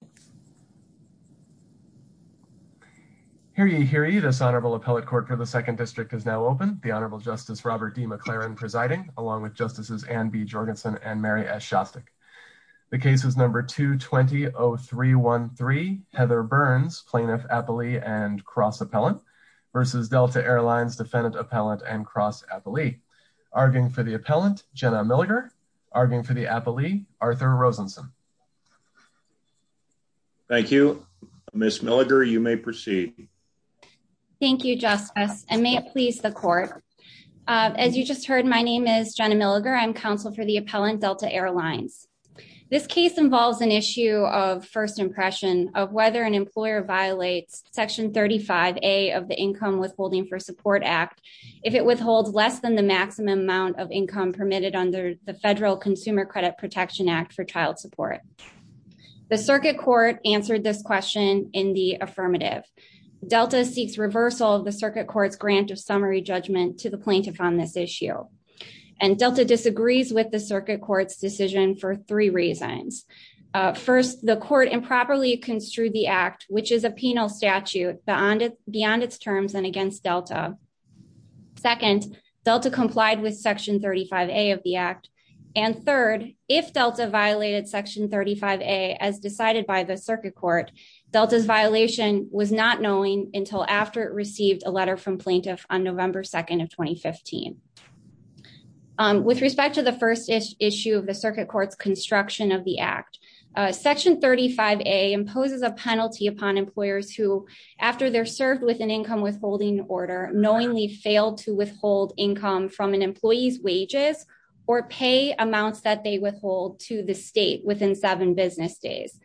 and Cross Appellant versus Delta Airlines Defendant Appellant and Cross Appellant. Arguing for the Appellant, Jenna Milliger. Arguing for the Appellant, Arthur Rosenson. Thank you. Ms. Milliger, you may proceed. Thank you, Justice, and may it please the court. As you just heard, my name is Jenna Milliger. I'm counsel for the Appellant Delta Airlines. This case involves an issue of first impression of whether an employer violates Section 35A of the Income Withholding for Support Act if it withholds less than the maximum amount of income permitted under the Federal Consumer Credit Protection Act for child support. The circuit court answered this question in the affirmative. Delta seeks reversal of the circuit court's grant of summary judgment to the plaintiff on this issue. And Delta disagrees with the circuit court's decision for three reasons. First, the court improperly construed the act, which is a penal statute beyond its terms and against Delta. Second, Delta complied with Section 35A of the act. And third, if Delta violated Section 35A as decided by the circuit court, Delta's violation was not knowing until after it received a letter from plaintiff on November 2nd of 2015. With respect to the first issue of the circuit court's construction of the act, Section 35A imposes a penalty upon employers who, after they're served with an income withholding order, knowingly failed to withhold income from an employee's wages or pay amounts that they withhold to the state within seven business days.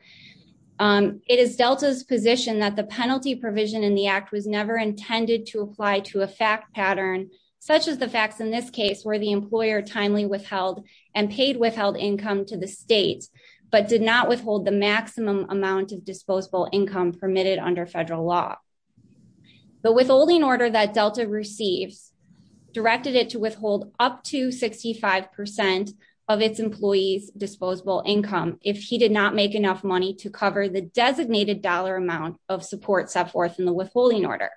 It is Delta's position that the penalty provision in the act was never intended to apply to a fact pattern, such as the facts in this case where the employer timely withheld and paid withheld income to the state, but did not withhold the maximum amount of disposable income permitted under federal law. The withholding order that Delta received directed it to withhold up to 65% of its employee's disposable income if he did not make enough money to cover the designated dollar amount of support set forth in the withholding order.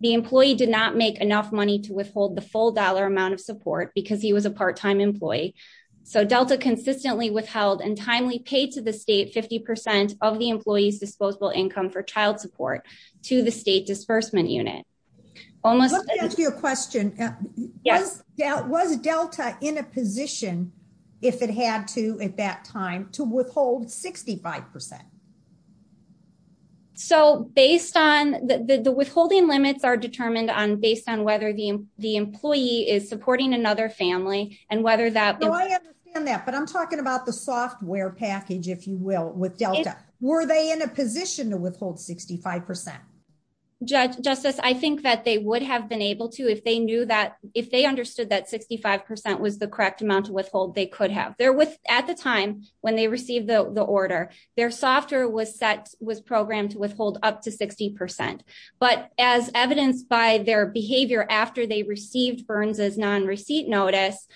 The employee did not make enough money to withhold the full dollar amount of support because he was a part-time employee, so Delta consistently withheld and timely paid to the state 50% of the employee's disposable income for child support to the state disbursement unit. Let me ask you a question. Was Delta in a position, if it had to at that time, to withhold 65%? So, based on the withholding limits are determined based on whether the employee is supporting another family and whether that... I understand that, but I'm talking about the software package, if you will, with Delta. Were they in a position to withhold 65%? Justice, I think that they would have been able to if they understood that 65% was the correct amount of withhold they could have. At the time when they received the order, their software was programmed to withhold up to 60%, but as evidenced by their behavior after they received Burns' non-receipt notice,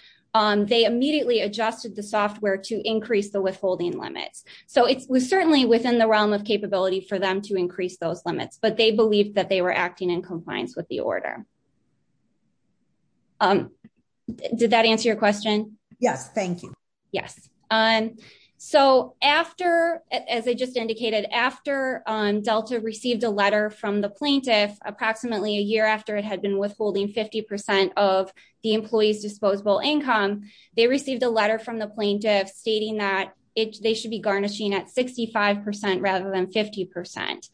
they immediately adjusted the software to increase the withholding limit. So, it was certainly within the realm of capability for them to increase those limits, but they believed that they were acting in compliance with the order. Did that answer your question? Yes, thank you. Yes. So, after, as I just indicated, after Delta received a letter from the plaintiff approximately a year after it had been withholding 50% of the employee's disposable income, they received a letter from the plaintiff stating that they should be garnishing at 65% rather than 50%.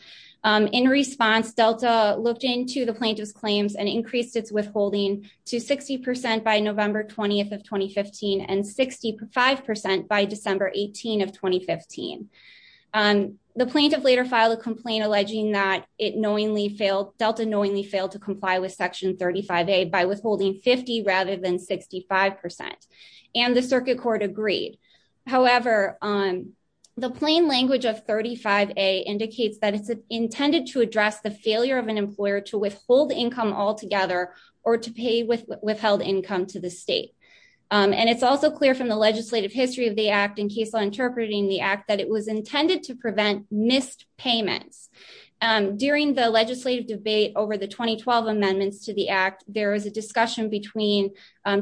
In response, Delta looked into the plaintiff's increased withholding to 60% by November 20th of 2015 and 65% by December 18th of 2015. The plaintiff later filed a complaint alleging that it knowingly failed, Delta knowingly failed to comply with Section 35A by withholding 50% rather than 65%, and the circuit court agreed. However, the plain language of 35A indicates that it's intended to address the failure of an employer to withhold income altogether or to pay withheld income to the state. And it's also clear from the legislative history of the Act in case of interpreting the Act that it was intended to prevent missed payments. During the legislative debate over the 2012 amendments to the Act, there was a discussion between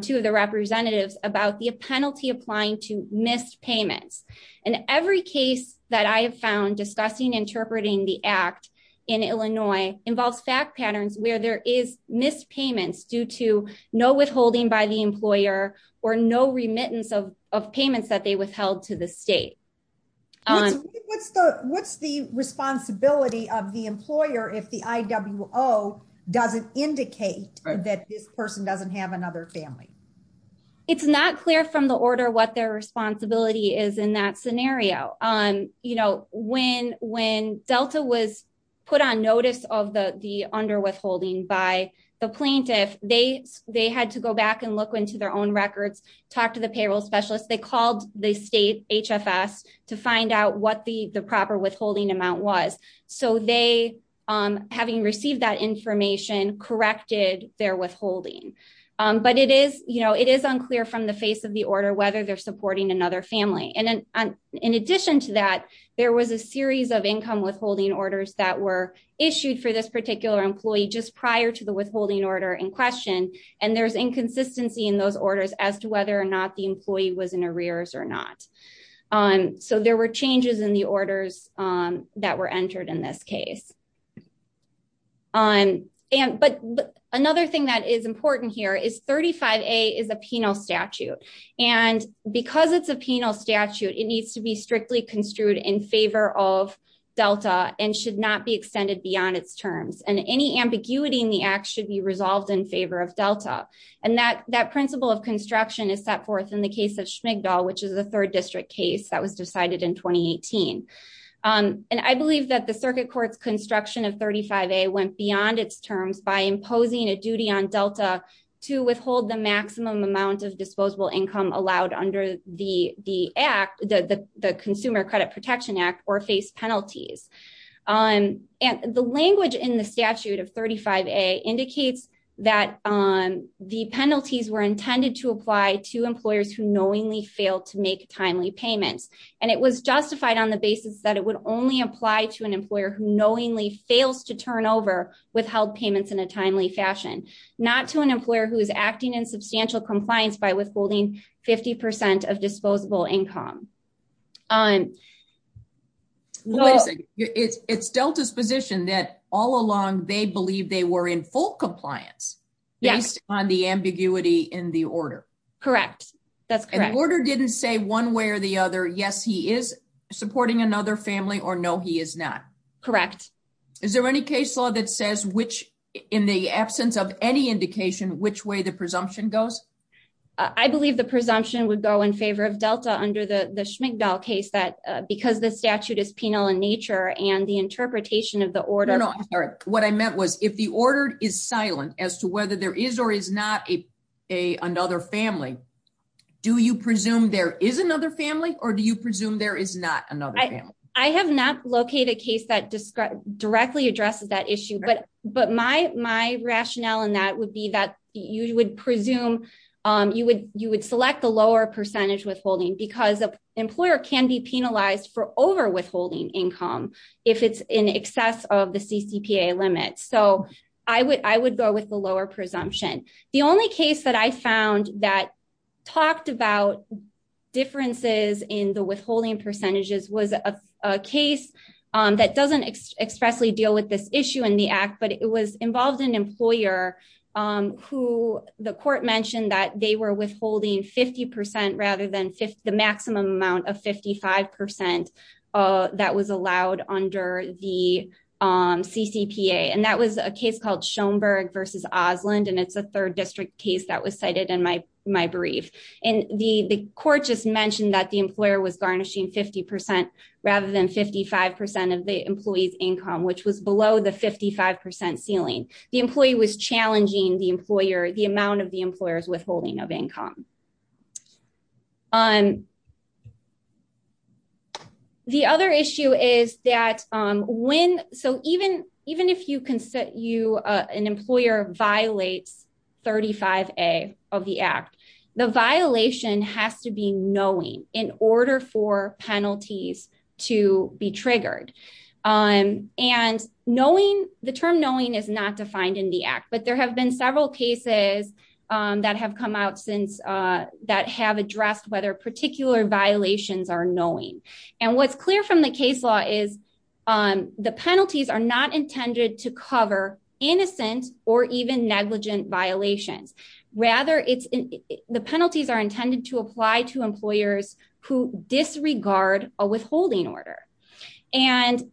two of the representatives about the penalty applying to missed payments. In every case that I have found discussing interpreting the Act in Illinois involves staff patterns where there is missed payments due to no withholding by the employer or no remittance of payments that they withheld to the state. What's the responsibility of the employer if the IWO doesn't indicate that this person doesn't have another family? It's not clear from the order what their responsibility is in that scenario. When Delta was put on notice of the underwithholding by the plaintiff, they had to go back and look into their own records, talk to the payroll specialist. They called the state HFS to find out what the proper withholding amount was. So they, having received that information, corrected their withholding. But it is unclear from the face of the order whether they're in addition to that, there was a series of income withholding orders that were issued for this particular employee just prior to the withholding order in question. And there's inconsistency in those orders as to whether or not the employee was in arrears or not. So there were changes in the orders that were entered in this case. But another thing that is important here is 35A is a penal statute. And because it's a penal statute, it needs to be strictly construed in favor of Delta and should not be extended beyond its terms. And any ambiguity in the act should be resolved in favor of Delta. And that principle of construction is set forth in the case of Schmigdal, which is a third district case that was decided in 2018. And I believe that the circuit court's construction of 35A went beyond its terms by imposing a duty on Delta to withhold the maximum amount of disposable income allowed under the act, the Consumer Credit Protection Act, or face penalties. And the language in the statute of 35A indicates that the penalties were intended to apply to employers who knowingly failed to make timely payments. And it was justified on the basis that it would only apply to an employer who knowingly fails to turn over withheld payments in a timely fashion, not to an employer who is acting in substantial compliance by withholding 50% of disposable income. It's Delta's position that all along they believed they were in full compliance based on the ambiguity in the order. Correct. That's correct. And the order didn't say one way or the other, yes, he is supporting another family, or no, he is not. Correct. Is there any case law that says which, in the absence of any indication, which way the presumption goes? I believe the presumption would go in favor of Delta under the Schmigdal case, but because the statute is penal in nature and the interpretation of the order... No, no, I'm sorry. What I meant was, if the order is silent as to there is or is not another family, do you presume there is another family or do you presume there is not another family? I have not located a case that directly addresses that issue, but my rationale in that would be that you would select the lower percentage withholding because the employer can be penalized for overwithholding income if it's in excess of the CCPA limit. So I would go with the lower presumption. The only case that I found that talked about differences in the withholding percentages was a case that doesn't expressly deal with this issue in the act, but it was involved an employer who the court mentioned that they were withholding 50% rather than the maximum amount of 55% that was allowed under the CCPA, and that was a case called Schoenberg v. Oslund, and it's a third district case that was cited in my brief. And the court just mentioned that the employer was garnishing 50% rather than 55% of the employee's income, which was below the 55% ceiling. The employee was not penalized for overwithholding of income. The other issue is that when, so even if you an employer violates 35A of the act, the violation has to be knowing in order for penalties to be come out that have addressed whether particular violations are knowing. And what's clear from the case law is the penalties are not intended to cover innocent or even negligent violations. Rather, the penalties are intended to apply to employers who disregard a withholding order. And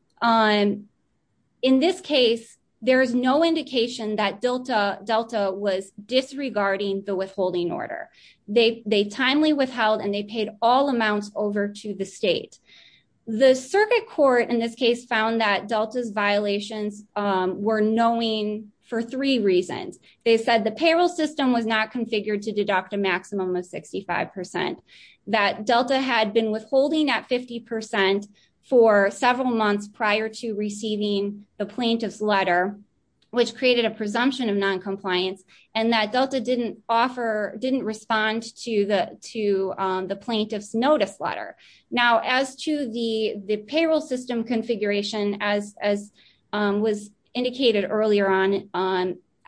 in this case, there is no indication that Delta was disregarding the withholding order. They timely withheld and they paid all amounts over to the state. The circuit court in this case found that Delta's violations were knowing for three reasons. They said the payroll system was configured to deduct a maximum of 65%. That Delta had been withholding at 50% for several months prior to receiving the plaintiff's letter, which created a presumption of noncompliance, and that Delta didn't offer, didn't respond to the plaintiff's notice letter. Now, as to the payroll system configuration, as was indicated earlier on,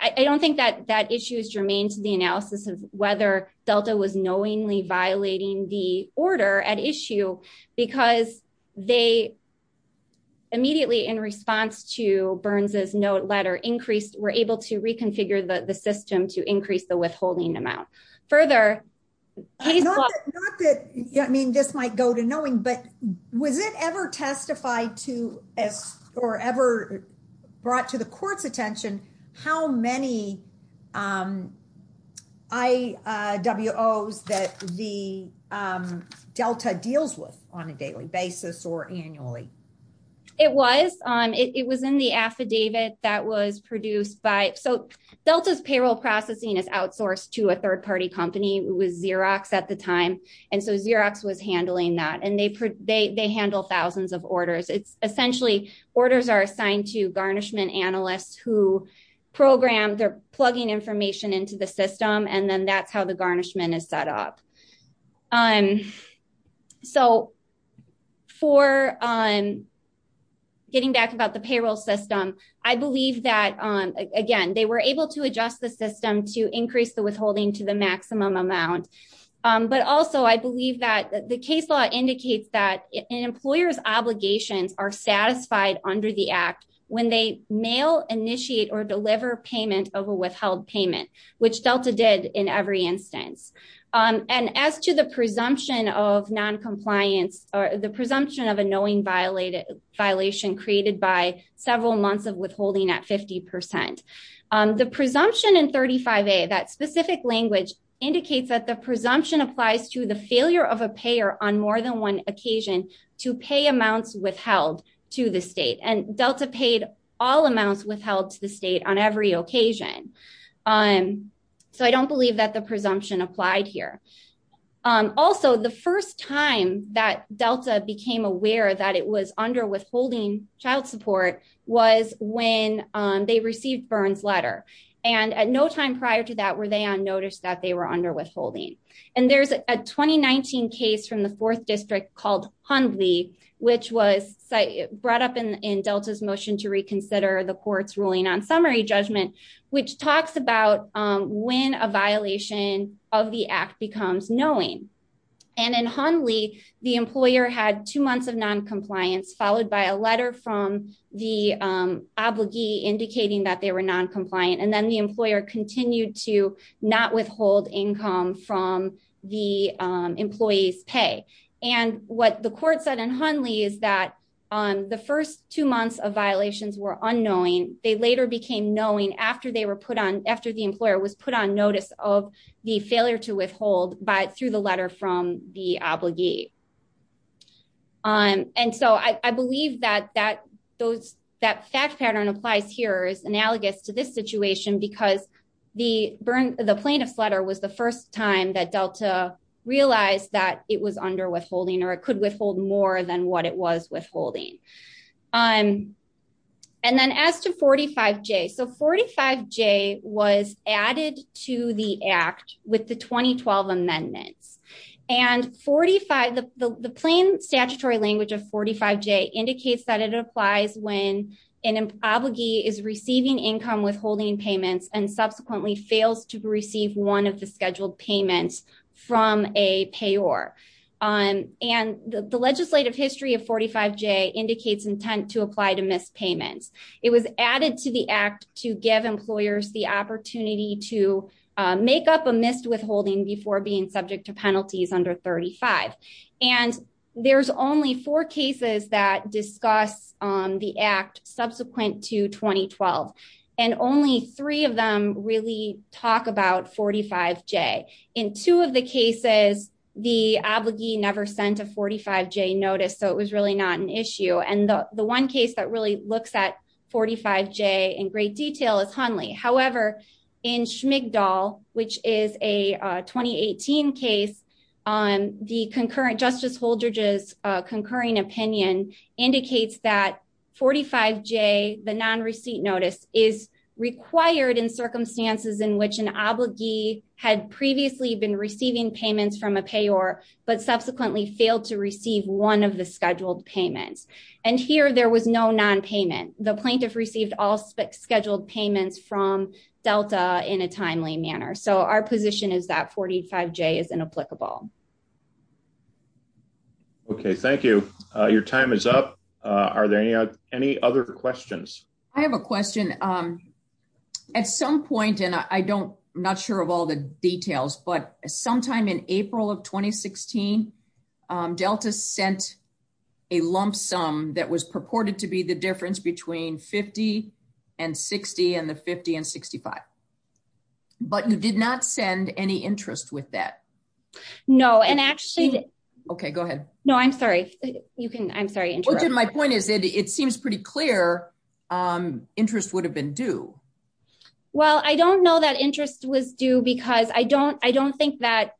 I don't think that issue is germane to the analysis of whether Delta was knowingly violating the order at issue because they immediately, in response to Burns's note letter, increased, were able to reconfigure the system to increase the withholding amount. Further- Not that, I mean, this might go to knowing, but was it ever testified to or ever brought to the court's attention how many IWOs that the Delta deals with on a daily basis or annually? It was on, it was in the affidavit that was produced by, so Delta's payroll processing is outsourced to a third-party company, it was Xerox at the time, and so Xerox was handling that and they handle thousands of orders. Essentially, orders are assigned to garnishment analysts who program, they're plugging information into the system, and then that's how the garnishment is set up. So, for getting back about the payroll system, I believe that, again, they were able to adjust the system to increase the withholding to the maximum amount, but also I believe that the case law indicates that an employer's obligations are satisfied under the act when they mail, initiate, or deliver payment of a withheld payment, which Delta did in every instance. And as to the presumption of non-compliance, or the presumption of a knowing violation created by several months of withholding at 50%, the presumption in 35A, that specific language, indicates that the presumption applies to the failure of a payer on more than one occasion to pay amounts withheld to the state, and Delta paid all amounts withheld to the state on every occasion. So, I don't believe that the presumption applied here. Also, the first time that Delta became aware that it was under withholding child support was when they received Byrne's letter, and at no time prior to that were they unnoticed that they were under withholding. And there's a 2019 case from the 4th District called Hundley, which was brought up in Delta's motion to reconsider the court's ruling on summary judgment, which talks about when a violation of the act becomes knowing. And in Hundley, the employer had two months of non-compliance, followed by a letter from the obligee indicating that they were non-compliant, and then the employer continued to not withhold income from the employee's pay. And what the court said in Hundley is that the first two months of violations were unknowing. They later became knowing after the employer was put on notice of the failure to withhold through the letter from the obligee. And so, I believe that that fact pattern applies here is analogous to this situation because the plaintiff's letter was the first time that Delta realized that it was under withholding or it could withhold more than what it was withholding. And then as to 45J, so 45J was added to the act with the 2012 amendment. And the plain statutory language of 45J indicates that it applies when an obligee is receiving income withholding payments and subsequently fails to receive one of the scheduled payments from a payor. And the legislative history of 45J indicates intent to apply to missed payments. It was added to the act to give employers the opportunity to make up a missed withholding before being subject to penalties under 35. And there's only four cases that discuss the act subsequent to 2012. And only three of them really talk about 45J. In two of the cases, the obligee never sent a 45J notice, so it was really not an issue. And the one case that really looks at 45J in great detail is Hunley. However, in Schmigdal, which is a 2018 case, the concurrent Justice Holdridge's concurring opinion indicates that 45J, the non-receipt notice, is required in circumstances in which an obligee had previously been receiving payments from a payor but subsequently failed to receive one of the scheduled payments. And here, there was no non-payment. The plaintiff received all scheduled payments from Delta in a timely manner. So our position is that 45J is inapplicable. Okay, thank you. Your time is up. Are there any other questions? I have a question. At some point, and I'm not sure of all the details, but sometime in April of 2016, Delta sent a lump sum that was purported to be the difference between 50 and 60 and the 50 and 65. But you did not send any interest with that. No, and actually... Okay, go ahead. No, I'm sorry. You can... I'm sorry. My point is that it seems pretty clear interest would have been due. Well, I don't know that interest was due because I don't think that...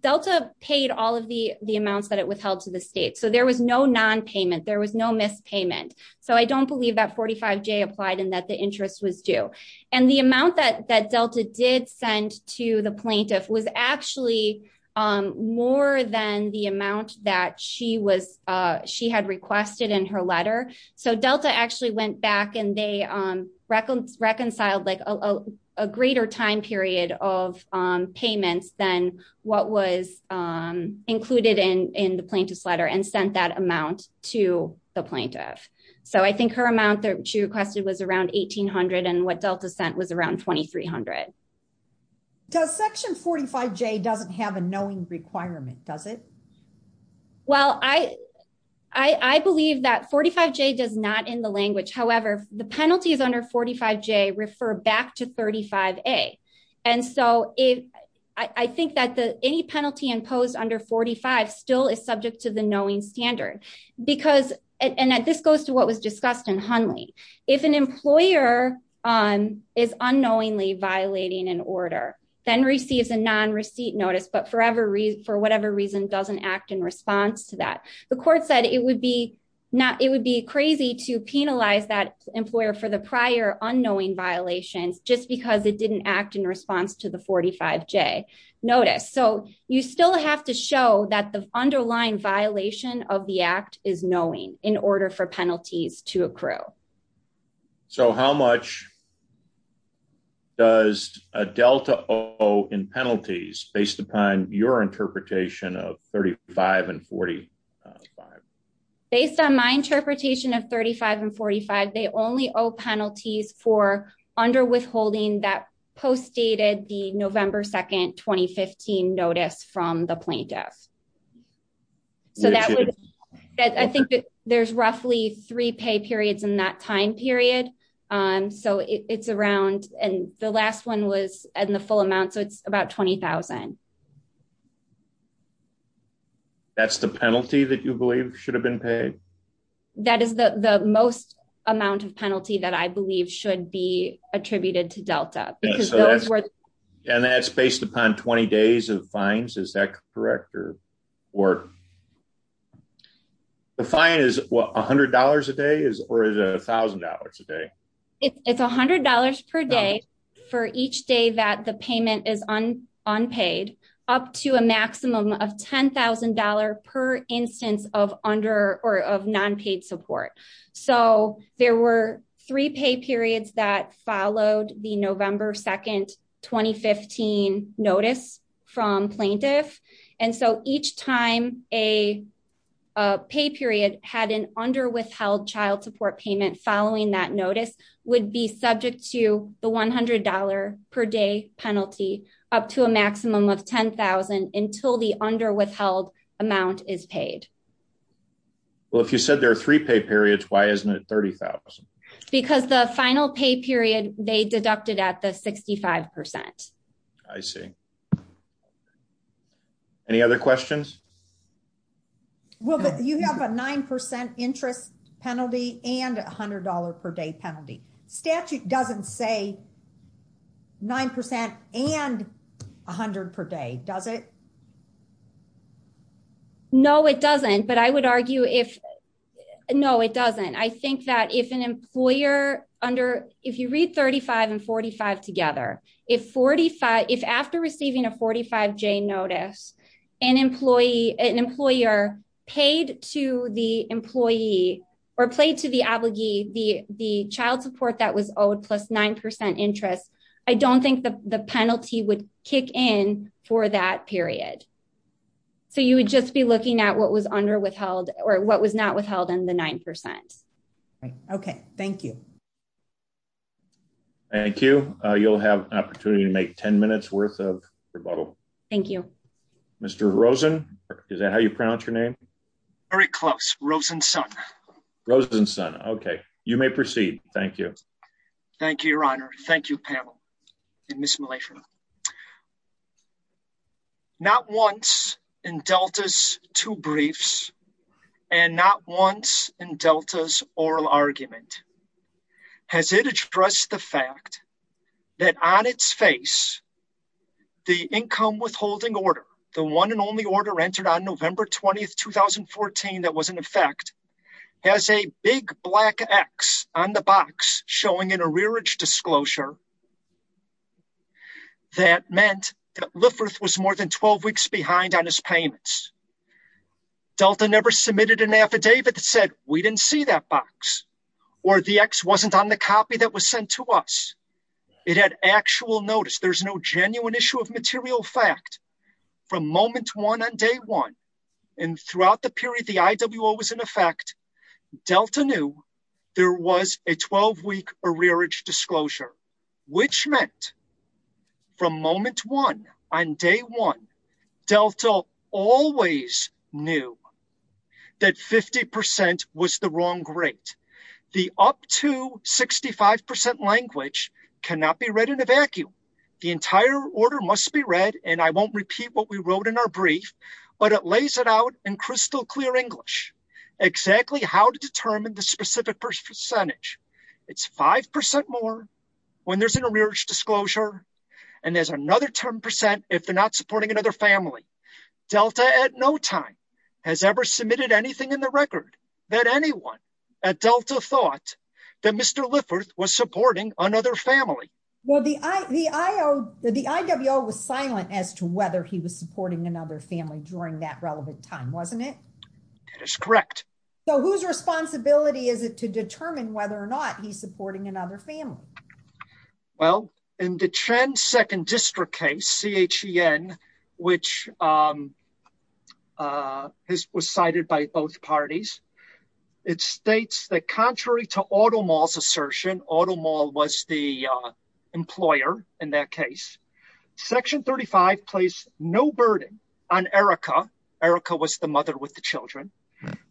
Delta paid all of the amounts that it withheld to the state. So there was no non-payment. There was no missed payment. So I don't believe that 45J applied and that the interest was due. And the amount that Delta did send to the plaintiff was actually more than the amount that she had requested in her letter. So Delta actually went back and they reconciled a greater time period of payments than what was included in the plaintiff's letter and sent that amount to the plaintiff. So I think her amount that she requested was around $1,800 and what Delta sent was around $2,300. Does section 45J doesn't have a knowing requirement, does it? Well, I believe that 45J does not in the language. However, the penalty of under 45J refer back to 35A. And so I think that any penalty imposed under 45 still is subject to the knowing standard. And this goes to what was discussed in Hunley. If an employer is unknowingly violating an order, then receives a non-receipt notice, for whatever reason doesn't act in response to that. The court said it would be crazy to penalize that employer for the prior unknowing violation just because it didn't act in response to the 45J notice. So you still have to show that the underlying violation of the act is knowing in order for penalties to accrue. So how much does Delta owe in penalties, based upon your interpretation of 35 and 45? Based on my interpretation of 35 and 45, they only owe penalties for underwithholding that postdated the November 2nd, 2015 notice from the plaintiff. So I think there's roughly three pay periods in that time period. So it's around, and the last one was in the full amount, so it's about $20,000. That's the penalty that you believe should have been paid? That is the most amount of penalty that I believe should be attributed to Delta. So that's based upon 20 days of fines, is that correct? The fine is $100 a day, or is it $1,000 a day? It's $100 per day for each day that the payment is unpaid, up to a maximum of $10,000 per instance of non-paid support. So there were three pay periods that followed the November 2nd, 2015 notice from plaintiffs, and so each time a pay period had an underwithheld child support payment following that notice would be subject to the $100 per day penalty, up to a maximum of $10,000 until the underwithheld amount is paid. Well, if you said there are three pay periods, why isn't it $30,000? Because the final pay period, they deducted at the 65%. I see. Any other questions? Well, you have a 9% interest penalty and a $100 per day penalty. Statute doesn't say 9% and $100 per day, does it? No, it doesn't, but I would argue if... No, it doesn't. I think that if an employer under... If you read 35 and 45 together, if after receiving a 45-J notice, an employer paid to the employee or paid to the child support that was owed plus 9% interest, I don't think the penalty would kick in for that period. So you would just be looking at what was underwithheld or what was not withheld in the 9%. Okay. Thank you. Thank you. You'll have an opportunity to make 10 minutes worth of rebuttal. Thank you. Mr. Rosen, is that how you pronounce your name? Very close. Rosenson. Rosenson. Okay. You may proceed. Thank you. Thank you, Your Honor. Thank you, panel and Ms. Malafina. Not once in Delta's two briefs and not once in Delta's oral argument has it addressed the fact that on its face, the income withholding order, the one and only order entered on November 20th, that was in effect, has a big black X on the box showing an arrearage disclosure that meant that Lifferth was more than 12 weeks behind on his payments. Delta never submitted an affidavit that said, we didn't see that box or the X wasn't on the copy that was sent to us. It had actual notice. There's no genuine issue of material fact from moment one on day one. And throughout the period the IWO was in effect, Delta knew there was a 12-week arrearage disclosure, which meant from moment one on day one, Delta always knew that 50% was the wrong rate. The up to 65% language cannot be read in a vacuum. The entire order must be read and I won't repeat what we wrote in our brief, but it lays it out in crystal clear English, exactly how to determine the specific percentage. It's 5% more when there's an arrearage disclosure and there's another 10% if they're not supporting another family. Delta at no time has ever submitted anything in the record that anyone at Delta thought that Mr. The IWO was silent as to whether he was supporting another family during that relevant time, wasn't it? That is correct. So whose responsibility is it to determine whether or not he's supporting another family? Well, in the Chen second district case, CHEN, which was cited by both parties, it states that contrary to Audemars assertion, Audemars was the employer in that case. Section 35 placed no burden on Erica, Erica was the mother with the children,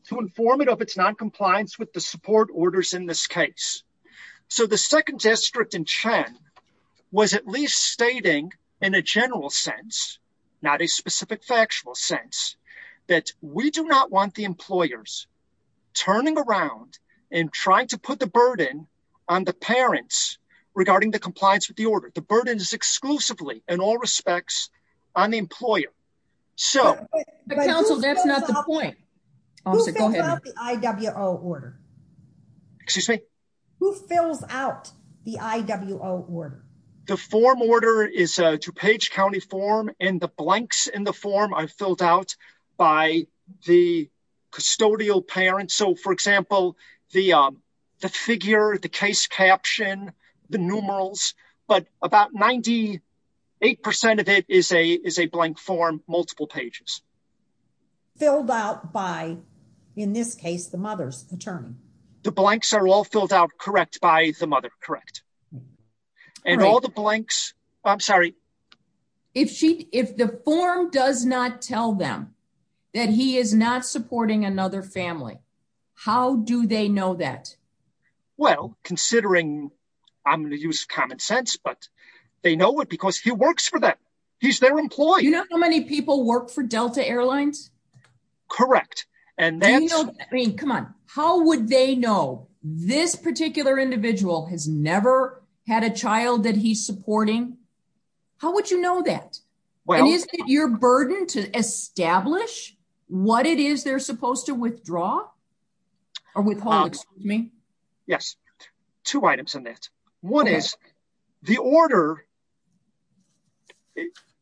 to inform it of its noncompliance with the support orders in this case. So the second district in CHEN was at least stating in a general sense, not a specific factual sense, that we do not want the employers turning around and trying to put the burden on the parents regarding the compliance with the order. The burden is exclusively, in all respects, on the employer. Who fills out the IWO order? The form order is a DuPage County form and the blanks in the form I filled out by the custodial parents. So for example, the figure, the case caption, the numerals, but about 98% of it is a blank form, multiple pages. Filled out by, in this case, the mother's paternal. The blanks are all filled out correct by the mother, correct. And all the blanks, I'm sorry. If the form does not tell them that he is not supporting another family, how do they know that? Well, considering, I'm going to use common sense, but they know it because he works for them. He's their employee. You know how many people work for Delta Airlines? Correct. And then, I mean, come on, how would they know this particular individual has never had a child that he's supporting? How would you know that? And is it your burden to establish what it is they're supposed to withdraw? Yes. Two items in this. One is the order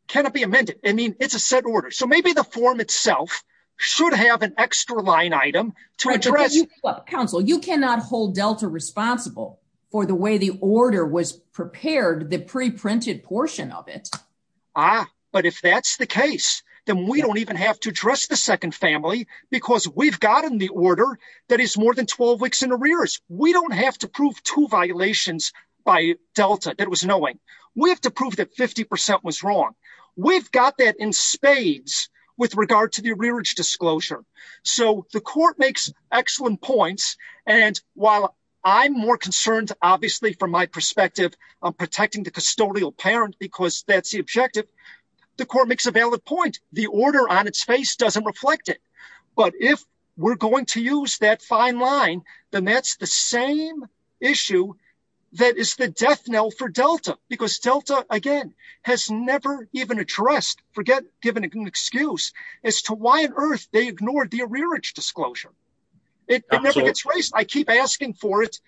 cannot be amended. I mean, it's a set order. So maybe the form itself should have an extra line item. Counsel, you cannot hold Delta responsible for the way the order was prepared, the pre-printed portion of it. Ah, but if that's the case, then we don't even have to address the second family because we've gotten the order that is more than 12 weeks in arrears. We don't have to prove two violations by Delta that was knowing. We have to prove that 50% was wrong. We've got that in spades with regard to the arrearage disclosure. So the court makes excellent points. And while I'm more concerned, obviously, from my perspective of protecting the custodial parent because that's the objective, the court makes a valid point. The order on its face doesn't reflect it. But if we're going to use that fine line, then that's the same issue that is the death knell for Delta. Because Delta, again, has never even addressed, given an excuse, as to why on earth they ignored the arrearage disclosure. It never gets raised. I keep asking for it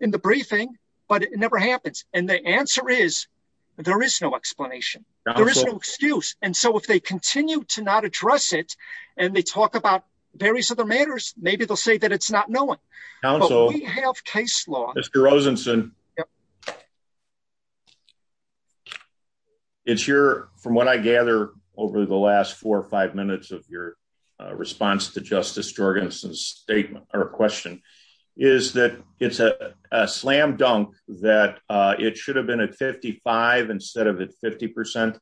in the briefing, but it never happens. And the answer is there is no explanation. There is no excuse. And so if they continue to not address it and they talk about various other matters, maybe they'll say that it's not known. Counsel. We have case law. Mr. Ozenson. It's your, from what I gather over the last four or five minutes of your response to Justice Jorgensen's statement or question, is that it's a slam dunk that it should have been at 55 instead of at 50%?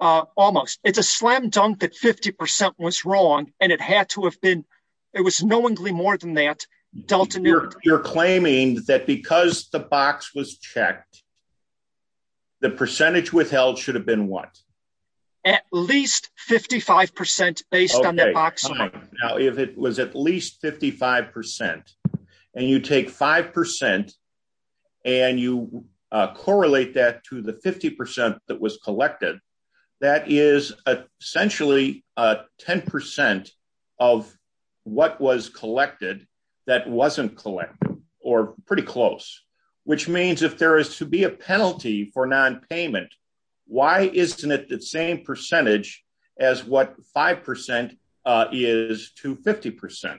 Almost. It's a slam dunk that 50% was wrong and it had to have been, it was knowingly more than that. You're claiming that because the box was checked, the percentage withheld should have been what? At least 55% based on the box. Now, if it was at least 55% and you take 5% and you correlate that to the 50% that was collected, that is essentially a 10% of what was collected that wasn't collected or pretty close, which means if there is to be a penalty for non-payment, why isn't it the same percentage as what 5% is to 50%?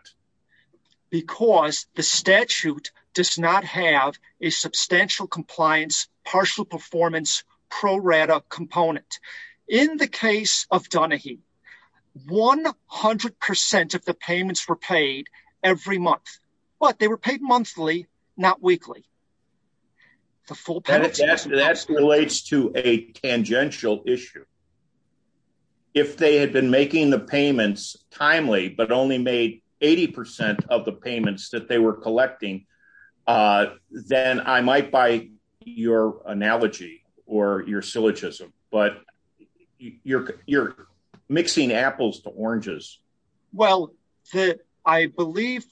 Because the statute does not have a substantial compliance, partial performance pro rata component. In the case of Dunahee, 100% of the payments were paid every month, but they were paid monthly, not weekly. That relates to a tangential issue. If they had been making the payments timely, but only made 80% of the payments that they were your syllogism, but you're mixing apples to oranges. Well, I believe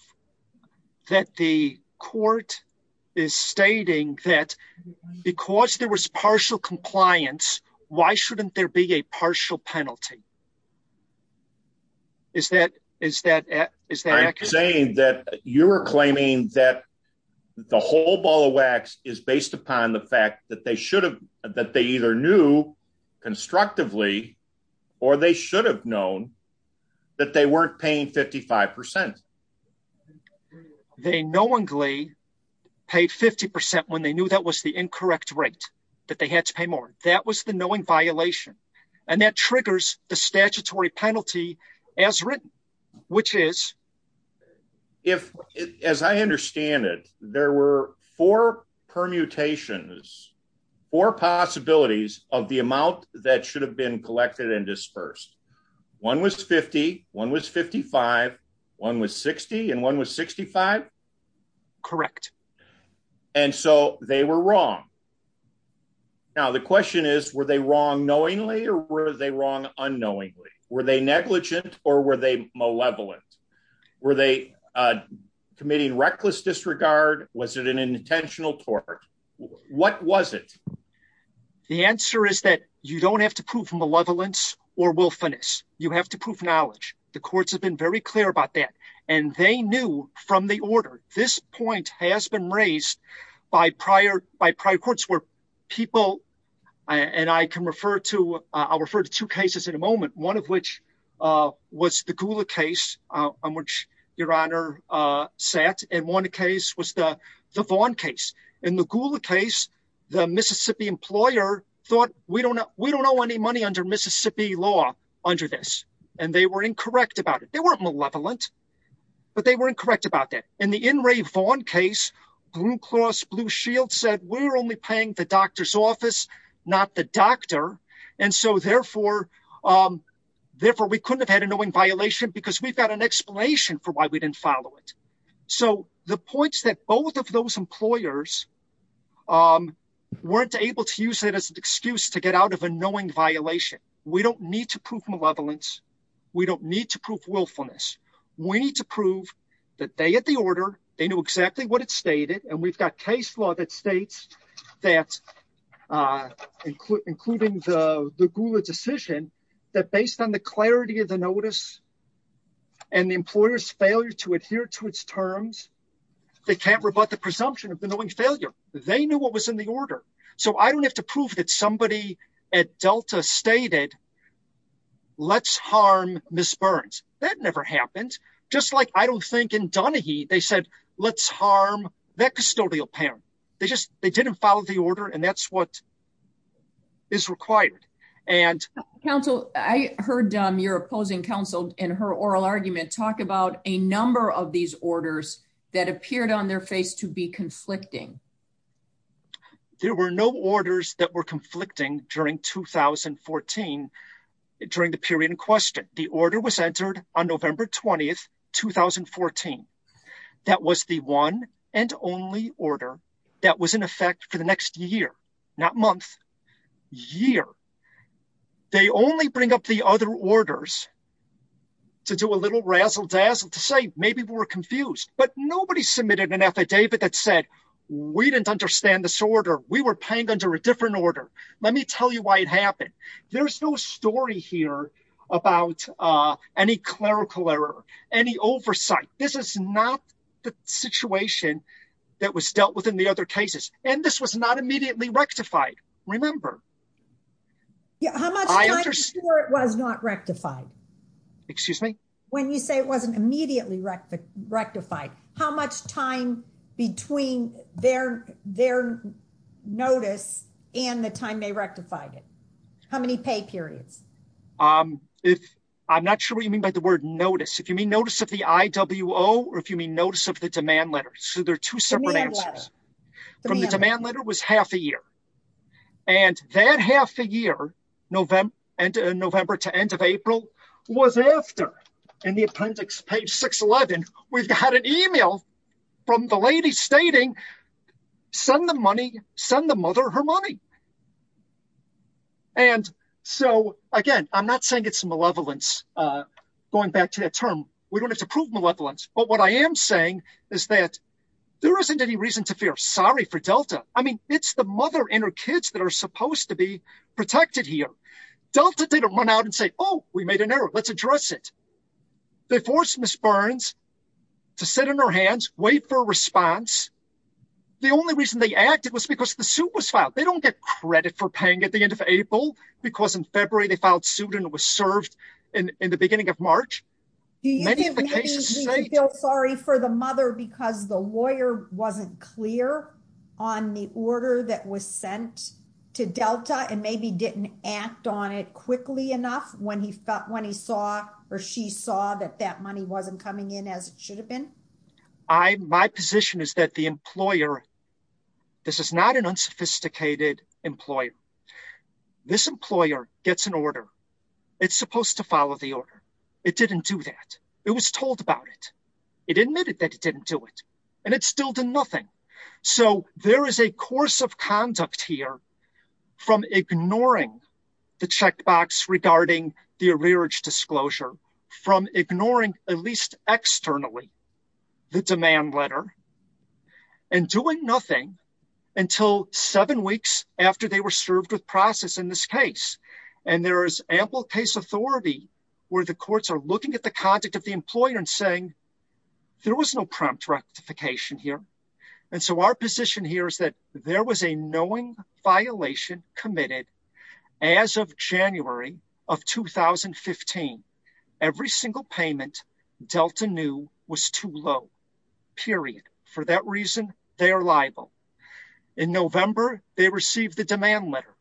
that the court is stating that because there was partial compliance, why shouldn't there be a partial penalty? I'm saying that you're claiming that the whole ball of wax is based upon the fact that they either knew constructively or they should have known that they weren't paying 55%. They knowingly paid 50% when they knew that was the incorrect rate, that they had to pay more. That was the knowing violation. That triggers the statutory penalty as written, which is- As I understand it, there were four permutations, four possibilities of the amount that should have been collected and dispersed. One was 50, one was 55, one was 60, and one was 65? Correct. They were wrong. Now, the question is, were they wrong knowingly or were they wrong unknowingly? Were they negligent or were they malevolent? Were they committing reckless disregard? Was it an intentional tort? What was it? The answer is that you don't have to prove malevolence or wilfulness. You have to prove knowledge. The courts have been very clear about that. They knew from the order. This point has been raised by prior courts where people- I'll refer to two cases in a moment, one of which was the Gula case on which Your Honor sat, and one case was the Vaughn case. In the Gula case, the Mississippi employer thought, we don't owe any money under Mississippi law under this. They were incorrect about it. They weren't malevolent, but they were incorrect about it. In the In re Vaughn case, Blue Cross Blue Shield said, we're only paying the doctor's office, not the doctor. Therefore, we couldn't have had a knowing violation because we've got an explanation for why we didn't follow it. The point is that both of those employers weren't able to use it as an excuse to get out of a knowing violation. We don't need to prove malevolence. We don't need to prove willfulness. We need to prove that they had the order. They knew exactly what it stated. We've got case law that states that, including the Gula decision, that based on the clarity of the notice and the employer's failure to adhere to its terms, they can't rebut the presumption of the knowing failure. They knew what was in the order. I don't have to prove that somebody at Delta stated, let's harm Ms. Burns. That never happened. Just like I don't think in Donahue they said, let's harm that custodial panel. They didn't follow the order and that's what is required. I heard your opposing counsel in her oral argument talk about a number of these orders that appeared on their face to be conflicting. There were no orders that were conflicting during 2014, during the period in question. The order was entered on November 20th, 2014. That was the one and only order that was in effect for the next year, not month, year. They only bring up the other orders to do a little razzle-dazzle to say, but nobody submitted an affidavit that said, we didn't understand this order. We were paying under a different order. Let me tell you why it happened. There's no story here about any clerical error, any oversight. This is not the situation that was dealt with in the other cases, and this was not immediately rectified. Remember. How much time before it was not rectified? Excuse me? When you say it wasn't immediately rectified, how much time between their notice and the time they rectified it? How many pay periods? I'm not sure what you mean by the word notice. If you mean notice of the IWO or if you mean notice of the demand letters. So there are two separate answers. From the demand letter was half a year, and that half a year, November to end of April, was after, in the appendix, page 611, we had an email from the lady stating, send the money, send the mother her money. And so, again, I'm not saying it's malevolence, going back to that term. We don't have to prove malevolence, but what I am saying is that there isn't any reason to feel sorry for Delta. I mean, it's the mother and her kids that are supposed to protected here. Delta didn't run out and say, oh, we made an error. Let's address it. They forced Ms. Burns to sit on her hands, wait for a response. The only reason they acted was because the suit was filed. They don't get credit for paying at the end of April, because in February they filed suit and it was served in the beginning of March. Do you feel sorry for the lawyer wasn't clear on the order that was sent to Delta and maybe didn't act on it quickly enough when he saw or she saw that that money wasn't coming in as it should have been? My position is that the employer, this is not an unsophisticated employer. This employer gets an order. It's supposed to follow the order. It didn't do that. It was told about it. It admitted that it didn't do it, and it still did nothing. So there is a course of conduct here from ignoring the checkbox regarding the arrearage disclosure, from ignoring at least externally the demand letter, and doing nothing until seven weeks after they were served with process in this case. And there is ample case authority where the courts are looking at the conduct of the employer and there was no prompt rectification here. And so our position here is that there was a knowing violation committed as of January of 2015. Every single payment Delta knew was too low, period. For that reason, they are liable. In November, they received the demand letter.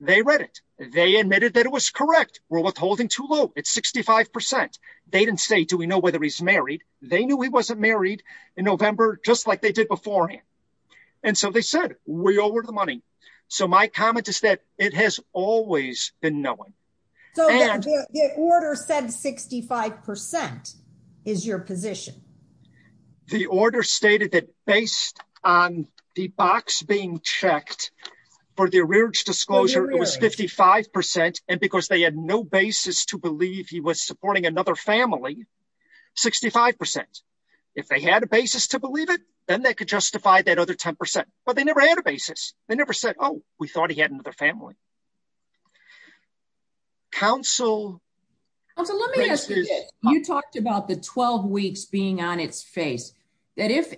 They read it. They admitted that it was correct. We're withholding too low. It's 65%. They didn't say, do we know whether he's married? They knew he wasn't married in November, just like they did before him. And so they said, we owe her the money. So my comment is that it has always been knowing. The order said 65% is your position. The order stated that based on the box being checked for the arrearage disclosure, it was 55%. And because they had no basis to believe he was supporting another family, 65%. If they had a basis to believe it, then they could justify that other 10%. But they never had a basis. They never said, oh, we thought he had another family. Counsel... You talked about the 12 weeks being on its face. That if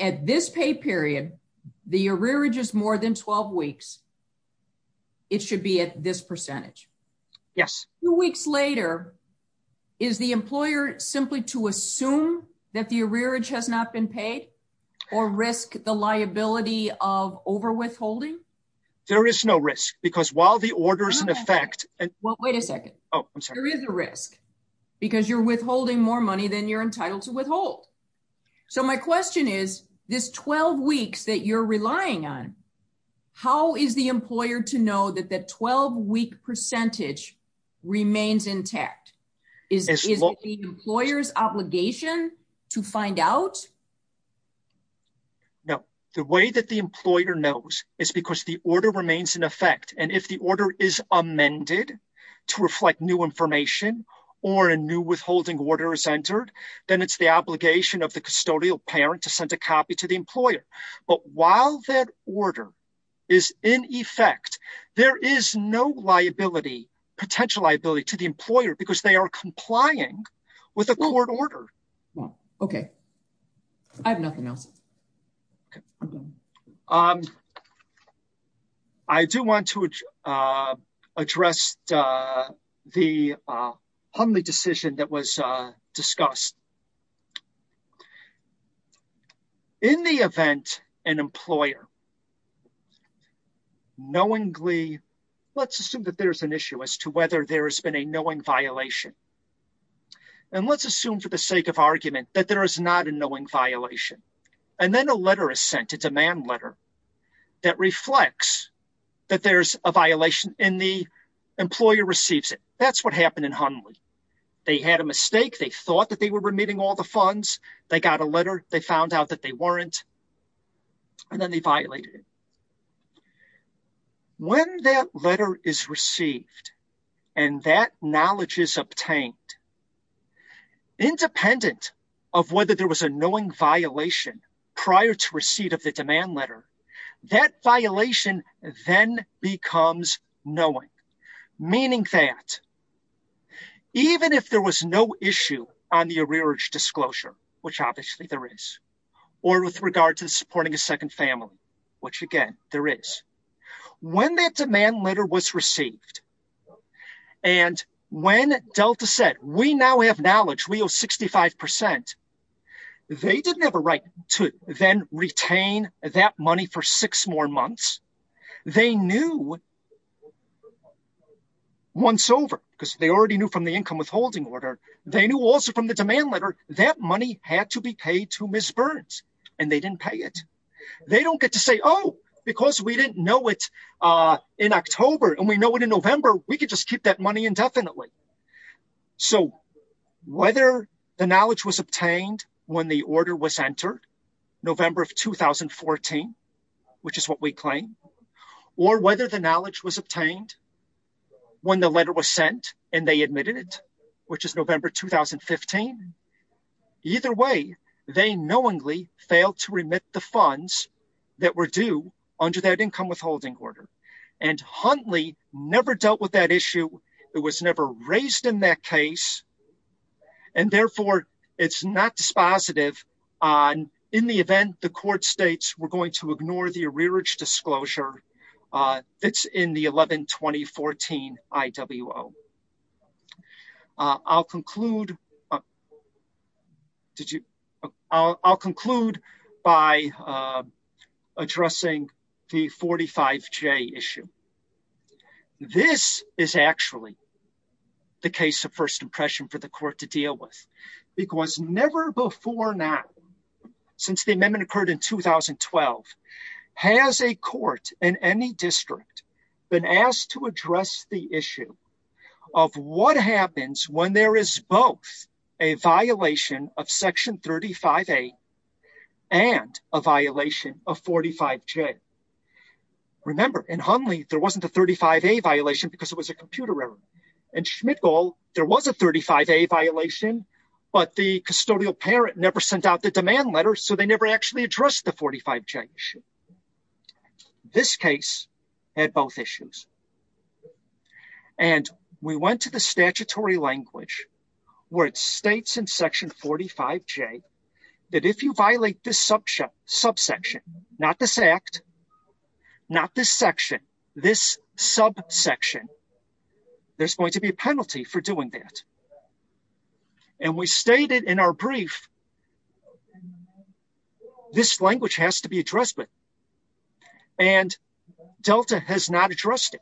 at this pay period, the arrearage is more than 12 weeks, it should be at this percentage. Yes. Two weeks later, is the employer simply to assume that the arrearage has not been paid or risk the liability of overwithholding? There is no risk because while the order is in effect... Well, wait a second. There is a risk because you're withholding more money than you're entitled to withhold. So my question is this 12 weeks that you're relying on, how is the employer to know that 12 week percentage remains intact? Is it the employer's obligation to find out? No. The way that the employer knows is because the order remains in effect. And if the order is amended to reflect new information or a new withholding order is entered, then it's the obligation of the custodial parent to send a copy to the employer. But while that order is in effect, there is no potential liability to the employer because they are complying with a court order. Okay. I have nothing else. I do want to address the decision that was discussed. In the event an employer knowingly, let's assume that there's an issue as to whether there has been a knowing violation. And let's assume for the sake of argument that there is not a knowing violation. And then a letter is sent, a demand letter, that reflects that there's a violation and the employer receives it. That's what happened in Hunley. They had a mistake. They thought that they were remitting all the funds. They got a letter. They found out that they weren't. And then they violated it. When that letter is received and that knowledge is obtained, independent of whether there was a knowing violation prior to receipt of the demand letter, that violation then becomes knowing. Meaning that even if there was no issue on the arrearage disclosure, which obviously there is, or with regard to supporting a second family, which again there is, when that demand letter was received and when Delta said, we now have knowledge. We owe 65%. They didn't have a right to then retain that money for six more months. They knew once over, because they already knew from the income withholding order. They knew also from the demand letter that money had to be paid to Ms. Burns. And they didn't pay it. They don't get to say, oh, because we didn't know it in October and we know it in November, we could just keep that money indefinitely. So whether the knowledge was obtained when the order was entered, November of 2014, which is what we claim, or whether the knowledge was obtained when the letter was sent and they admitted it, which is November 2015, either way, they knowingly failed to remit the funds that were due under that income withholding order. And Huntley never dealt with that issue. It was never raised in that case. And therefore, it's not dispositive on, in the event the court states we're going to ignore the arrearage disclosure, it's in the 11-2014 IWO. I'll conclude by addressing the 45J issue. This is actually the case of first impression for the court to deal with. It was never before now, since the amendment occurred in 2012, has a court in any district been asked to address the issue of what happens when there is both a violation of Section 35A and a violation of 45J. Remember, in Huntley, there wasn't a 35A violation because it was a computer error. In Schmidt-Gall, there was a 35A violation, but the custodial parent never sent out the demand letter, so they never actually addressed the 45J issue. This case had both issues. And we went to the statutory language where it states in Section 45J that if you violate this subsection, not this act, not this section, this subsection, there's going to be a penalty for doing that. And we stated in our brief, this language has to be addressed, and Delta has not addressed it.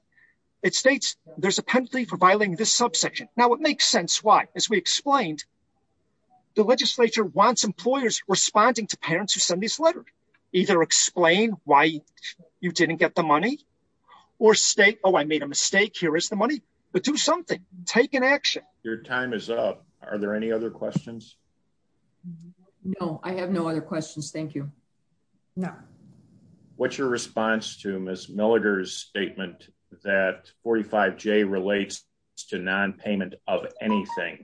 It states there's a penalty for violating this subsection. Now, it makes sense why. As we explained, the legislature wants employers responding to parents who send these letters. Either explain why you didn't get the money, or state, oh, I made a mistake, here is the money. But do something. Take an action. Your time is up. Are there any other questions? No, I have no other questions, thank you. No. What's your response to Ms. Milliger's statement that 45J relates to nonpayment of anything?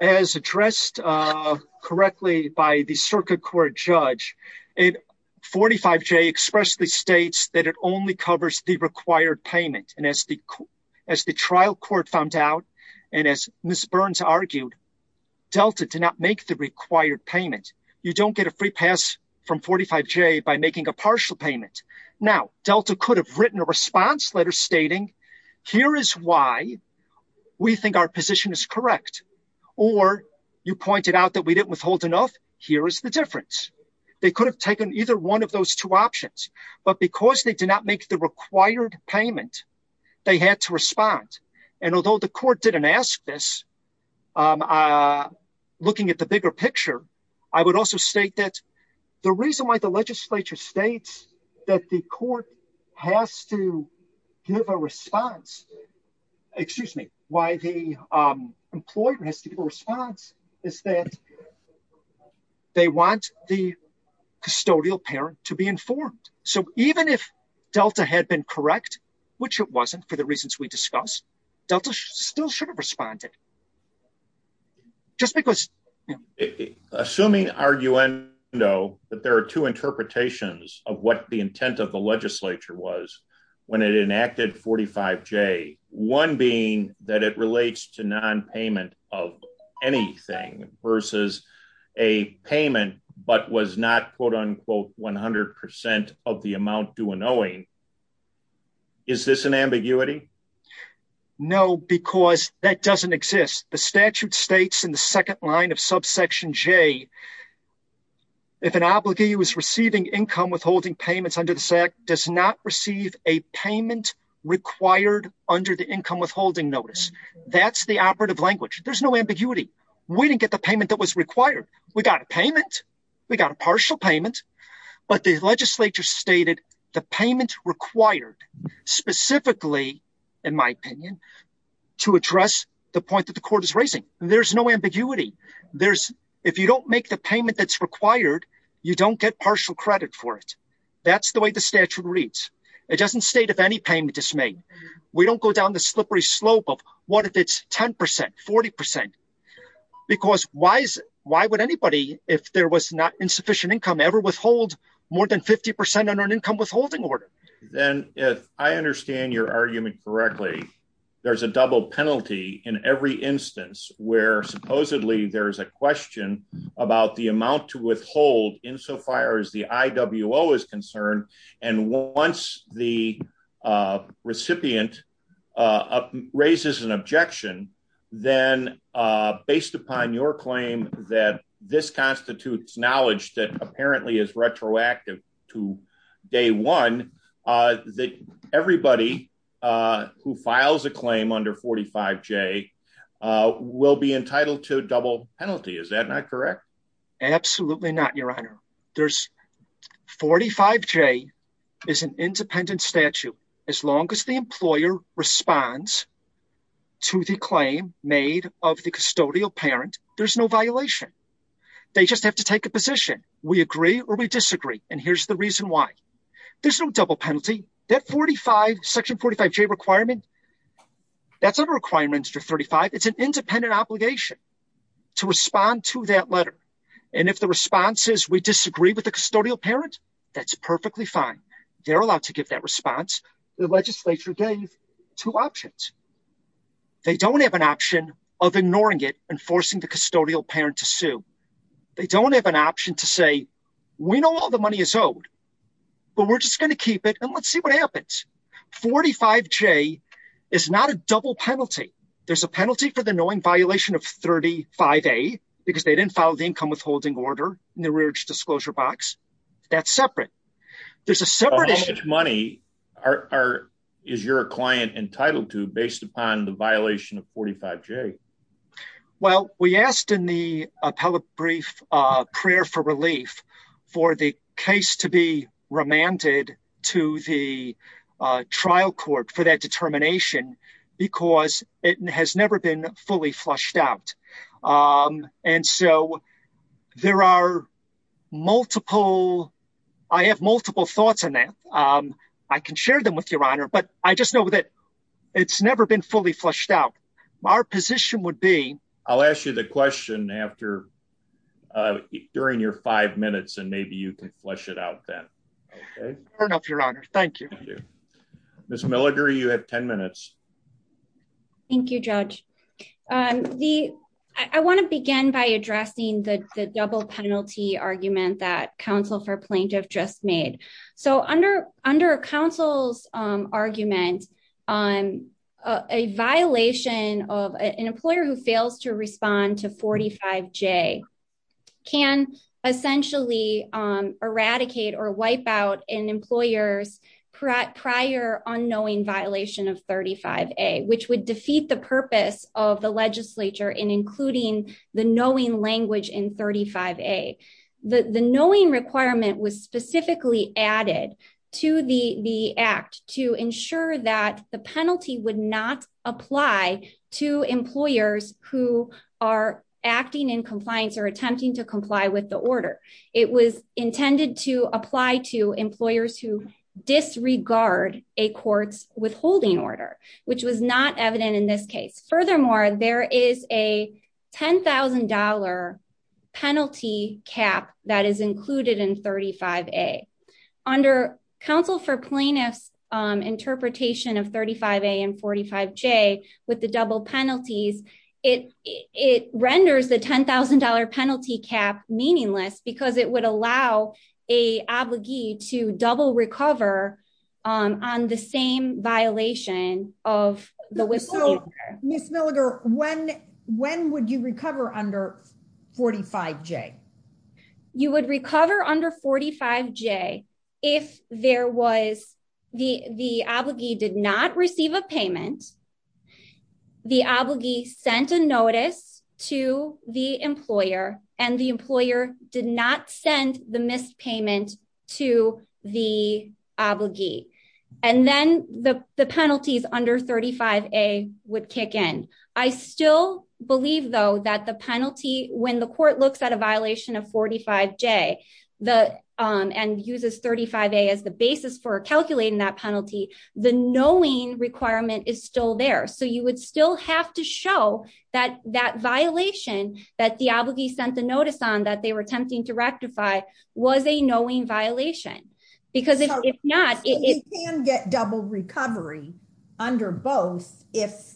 As addressed correctly by the circuit court judge, 45J expressly states that it only covers the required payment. And as the trial court found out, and as Ms. Burns argued, Delta did not make the required payment. You don't get a free pass from 45J by making a partial payment. Now, Delta could have written a response letter stating, here is why we think our position is correct. Or, you pointed out that we didn't withhold enough, here is the difference. They could have taken either one of those two options. But because they did not make the required payment, they had to respond. And although the court didn't ask this, looking at the bigger picture, I would also state that the reason why the legislature states that the court has to give a response, excuse me, why the employer has to give a response is that they want the custodial parent to be informed. So even if Delta had been correct, which it wasn't for the reasons we discussed, Delta still should have responded. Assuming there are two interpretations of what the intent of the legislature was when it enacted 45J, one being that it relates to nonpayment of anything versus a payment but was not quote unquote 100% of the amount due annulling, is this an ambiguity? No, because that doesn't exist. The statute states in the second line of subsection J, if an obligee was receiving income withholding payments under the statute, does not receive a payment required under the income withholding notice. That's the operative language. There's no ambiguity. We didn't get the payment that was required. We got a payment. We got a partial payment. But the legislature stated the payment required specifically, in my opinion, to address the point that the court is raising. There's no ambiguity. If you don't make the payment that's required, you don't get partial credit for it. That's the way the statute reads. It doesn't state if any payment is made. We don't go down the slippery slope of what if it's 10%, 40%. Because why would anybody, if there was not insufficient income, ever withhold more than 50% on an income withholding order? I understand your argument correctly. There's a double penalty in every instance where supposedly there's a question about the amount to withhold insofar as the IWO is concerned. And once the recipient raises an objection, then based upon your claim that this constitutes knowledge that apparently is retroactive to day one, that everybody who files a claim under 45J will be entitled to a double penalty. Is that not correct? Absolutely not, your honor. 45J is an independent statute. As long as the employer responds to the claim made of the custodial parent, there's no violation. They just have to take a position. We agree or we disagree. And here's the reason why. There's no double penalty. That 45, section 45J requirement, that's a requirement under 35. It's an independent obligation to respond to that letter. And if the response is we disagree with the custodial parent, that's perfectly fine. They're allowed to give that response. The legislature gave two options. They don't have an option of ignoring it and forcing the custodial parent to sue. They don't have an option to say, we know all the money is owed, but we're just to keep it and let's see what happens. 45J is not a double penalty. There's a penalty for the knowing violation of 35A because they didn't file the income withholding order in the rearage disclosure box. That's separate. How much money is your client entitled to based upon the violation of 45J? Well, we asked in the appellate brief prayer for relief for the case to be remanded to the trial court for that determination because it has never been fully flushed out. And so there are multiple, I have multiple thoughts on that. I can share them with your honor, but I just know that it's never been fully flushed out. Our position would be... I'll ask you the question during your five minutes and maybe you can flush it out then. Fair enough, your honor. Thank you. Ms. Milliger, you have 10 minutes. Thank you, Judge. I want to begin by addressing the double penalty argument that counsel for on a violation of an employer who fails to respond to 45J can essentially eradicate or wipe out an employer's prior unknowing violation of 35A, which would defeat the purpose of the legislature in including the knowing language in 35A. The knowing requirement was specifically added to the act to ensure that the penalty would not apply to employers who are acting in compliance or attempting to comply with the order. It was intended to apply to employers who disregard a court's withholding order, which was not evident in this case. Furthermore, there is a $10,000 penalty cap that is included in 35A. Under counsel for plaintiff's interpretation of 35A and 45J with the double penalties, it renders the $10,000 penalty cap meaningless because it would allow a obligee to double recover on the same violation of the withholding order. Ms. Milliger, when would you recover under 45J? You would recover under 45J if there was the obligee did not receive a payment, the obligee sent a notice to the employer, and the employer did not send the missed payment to the obligee. And then the penalties under 35A would kick in. I still believe, though, that the penalty, when the court looks at a violation of 45J and uses 35A as the basis for calculating that penalty, the knowing requirement is still there. So you would still have to show that that violation that the obligee sent the notice on that they were attempting to rectify was a knowing violation. Because if not, it can get double recovery under both if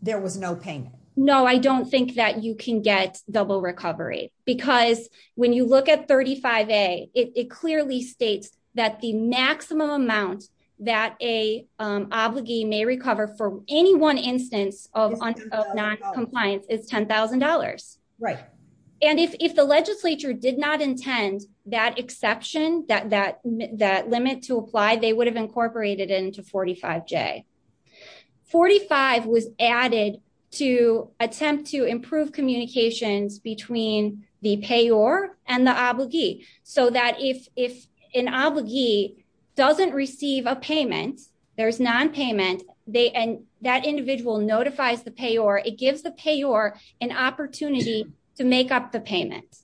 there was no payment. No, I don't think that you can get double recovery because when you look at 35A, it clearly states that the maximum amount that a may recover for any one instance of noncompliance is $10,000. And if the legislature did not intend that exception, that limit to apply, they would have incorporated it into 45J. 45 was added to attempt to improve communication between the payor and the obligee so that if an obligee doesn't receive a payment, there's nonpayment, and that individual notifies the payor, it gives the payor an opportunity to make up the payment.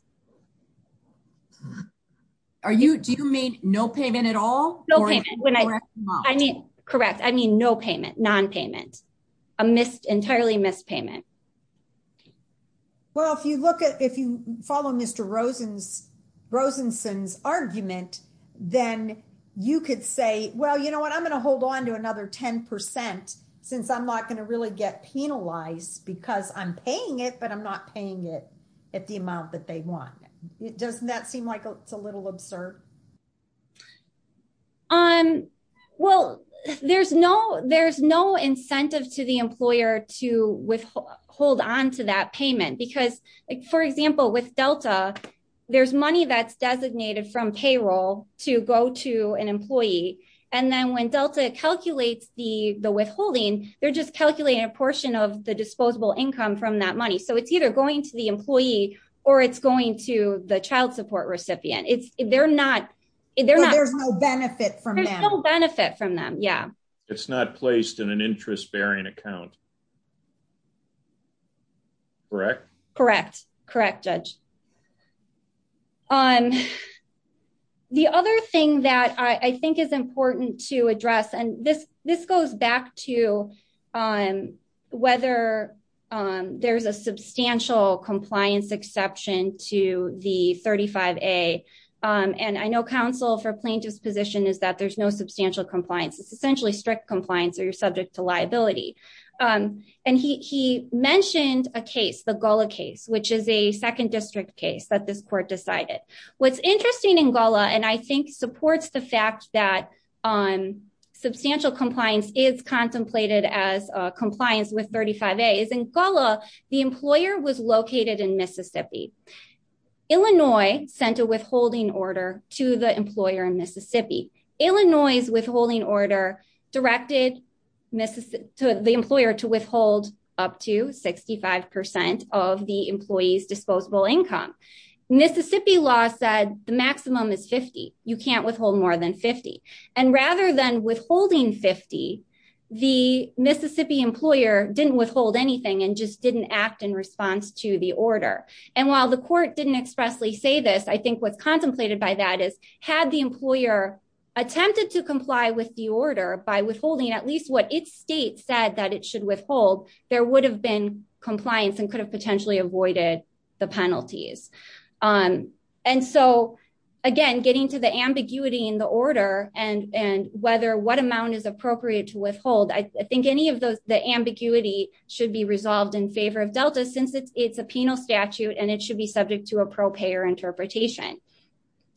Are you, do you mean no payment at all? No payment. I mean, correct, I mean no payment, nonpayment, entirely missed payment. Okay. Well, if you look at, if you follow Mr. Rosen's argument, then you could say, well, you know what, I'm going to hold on to another 10% since I'm not going to really get penalized because I'm paying it, but I'm not paying it at the amount that they want. Doesn't that seem like it's a little absurd? Um, well, there's no, there's no incentive to the employer to withhold, hold onto that payment because, for example, with Delta, there's money that's designated from payroll to go to an employee and then when Delta calculates the withholding, they're just calculating a portion of the disposable income from that money. So it's either going to the employee or it's going to the child support recipient. It's, they're not, they're not, there's no benefit from them. Yeah. It's not placed in an interest bearing account. Correct? Correct. Correct, Judge. Um, the other thing that I think is important to address, and this, this goes back to, um, whether, um, there's a substantial compliance exception to the 35A, um, and I know counsel for plaintiff's position is that there's no substantial compliance. It's essentially strict compliance or you're subject to liability. Um, and he, he mentioned a case, the Gullah case, which is a second district case that this court decided. What's interesting in Gullah, and I think supports the fact that, um, substantial compliance is contemplated as compliance with 35A, is in Gullah, the employer was located in Mississippi. Illinois sent a withholding order to the employer in Mississippi. Illinois' withholding order directed the employer to withhold up to 65% of the employee's disposable income. Mississippi law said the maximum is 50. You can't withhold more than 50. And rather than withholding 50, the Mississippi employer didn't withhold anything and just didn't act in response to the order. And while the court didn't expressly say this, I think what's contemplated by that is had the employer attempted to comply with the order by withholding at least what its state said that it should withhold, there would have been compliance and could have potentially avoided the penalties. Um, and so again, getting to the ambiguity in the order and, and whether what amount is appropriate to withhold, I think any of those, the ambiguity should be resolved in favor of Delta since it's a penal statute and it should be subject to a pro payer interpretation.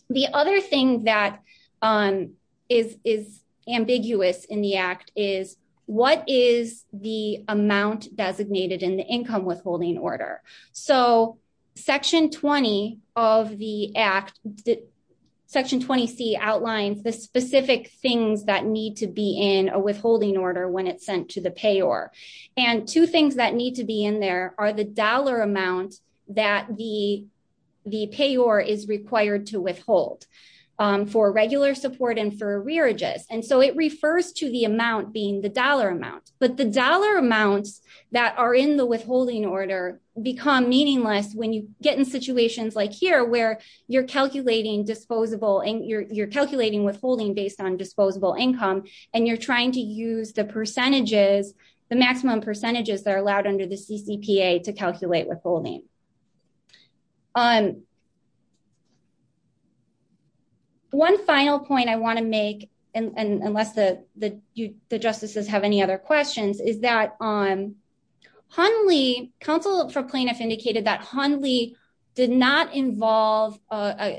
The other thing that, um, is, is ambiguous in the act is what is the amount designated in the income withholding order? So section 20 of the act, section 20C outlines the specific things that need to be in a withholding order when it's sent to the payor. And two things that need to be in there are the dollar amounts that the, the payor is required to withhold, um, for regular support and for arrearages. And so it refers to the amount being the dollar amount, but the dollar amounts that are in the withholding order become meaningless when you get in situations like here where you're calculating disposable and you're, you're calculating withholding based on and you're trying to use the percentages, the maximum percentages that are allowed under the CCPA to calculate withholding. Um, one final point I want to make, and, and unless the, the, you, the justices have any other questions, is that, um, Honley, counsel for plaintiffs indicated that Honley did not involve, uh,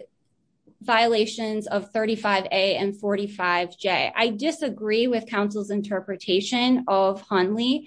violations of 35A and 45J. I disagree with counsel's interpretation of Honley.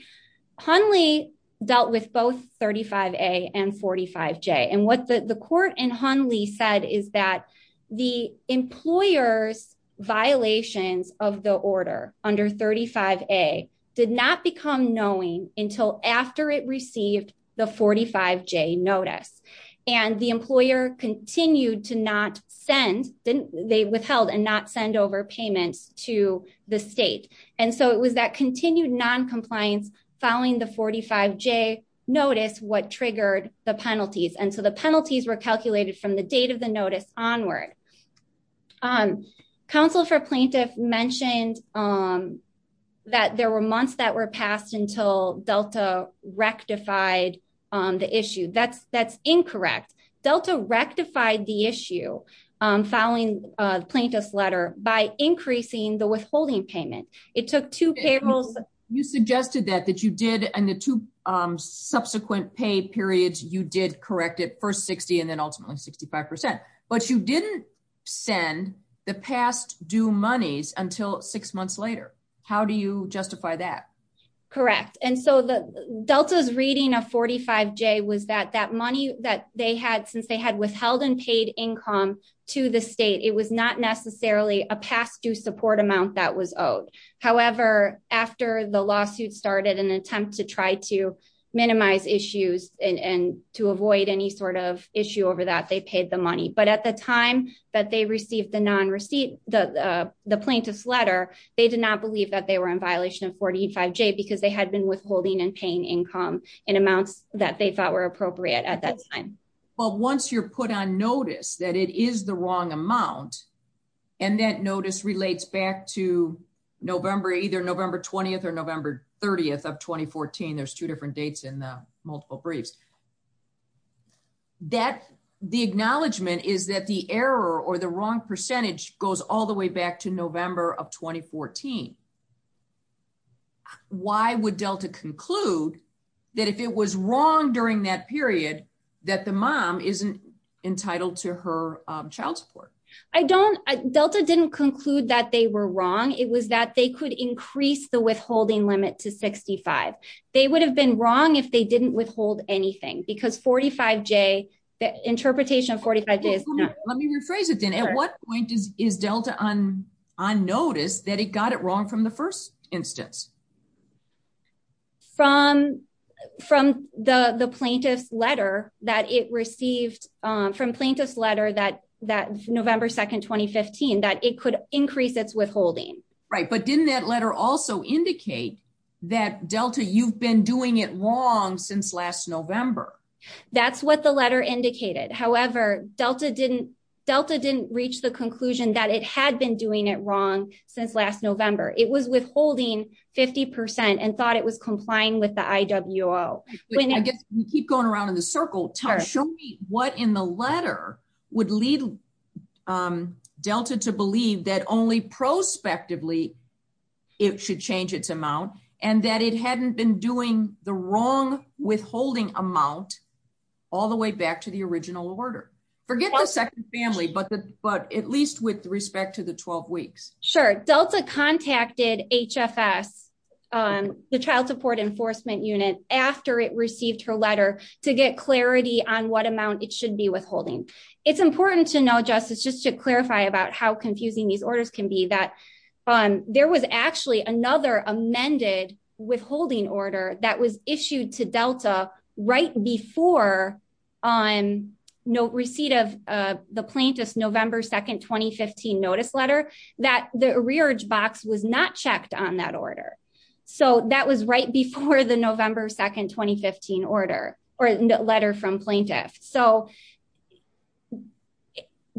Honley dealt with both 35A and 45J. And what the court in Honley said is that the employer's violations of the order under 35A did not become knowing until after it received the 45J notice. And the employer continued to not send, they withheld and not send over payment to the state. And so it was that continued non-compliance following the 45J notice what triggered the penalties. And so the penalties were calculated from the date of the notice onward. Um, counsel for plaintiffs mentioned, um, that there were months that were rectified on the issue. That's, that's incorrect. Delta rectified the issue, um, filing a plaintiff's letter by increasing the withholding payment. It took two payrolls. You suggested that, that you did, and the two, um, subsequent pay periods, you did correct it first 60 and then ultimately 65%. But you didn't send the past due monies until six months later. How do you justify that? Correct. And so the Delta's reading of 45J was that that money that they had, since they had withheld and paid income to the state, it was not necessarily a past due support amount that was owed. However, after the lawsuit started an attempt to try to minimize issues and to avoid any sort of issue over that, they paid the money. But at the time that they were in violation of 45J because they had been withholding and paying income in amounts that they thought were appropriate at that time. Well, once you're put on notice that it is the wrong amount and that notice relates back to November, either November 20th or November 30th of 2014, there's two different dates in the multiple briefs. That the acknowledgement is that the error or the wrong percentage goes all the way back to November of 2014. Why would Delta conclude that if it was wrong during that period, that the mom isn't entitled to her child support? I don't, Delta didn't conclude that they were wrong. It was that they could increase the withholding limit to 65. They would have been wrong if they didn't withhold anything because 45J, the interpretation of 45J is- Let me rephrase it then. At what point is Delta on notice that it got it wrong from the first instance? From the plaintiff's letter that it received, from plaintiff's letter that's November 2nd, 2015, that it could increase its withholding. Right. But didn't that letter also indicate that Delta, you've been doing it wrong since last November? That's what the letter indicated. However, Delta didn't reach the conclusion that it had been doing it wrong since last November. It was withholding 50% and thought it was complying with the IWO. Keep going around in a circle. Show me what in the letter would lead Delta to believe that only prospectively it should change its amount and that it hadn't been doing the wrong withholding amount all the way back to the original order. Forget the second family, but at least with respect to the 12 weeks. Sure. Delta contacted HFS, the Child Support Enforcement Unit, after it received her letter to get clarity on what amount it should be withholding. It's important to know, Justice, just to clarify about how confusing these orders can be, that there was actually another amended withholding order that was issued to Delta right before receipt of the plaintiff's November 2nd, 2015 notice letter, that the rearage box was not checked on that order. That was right before the November 2nd, 2015 letter from plaintiff.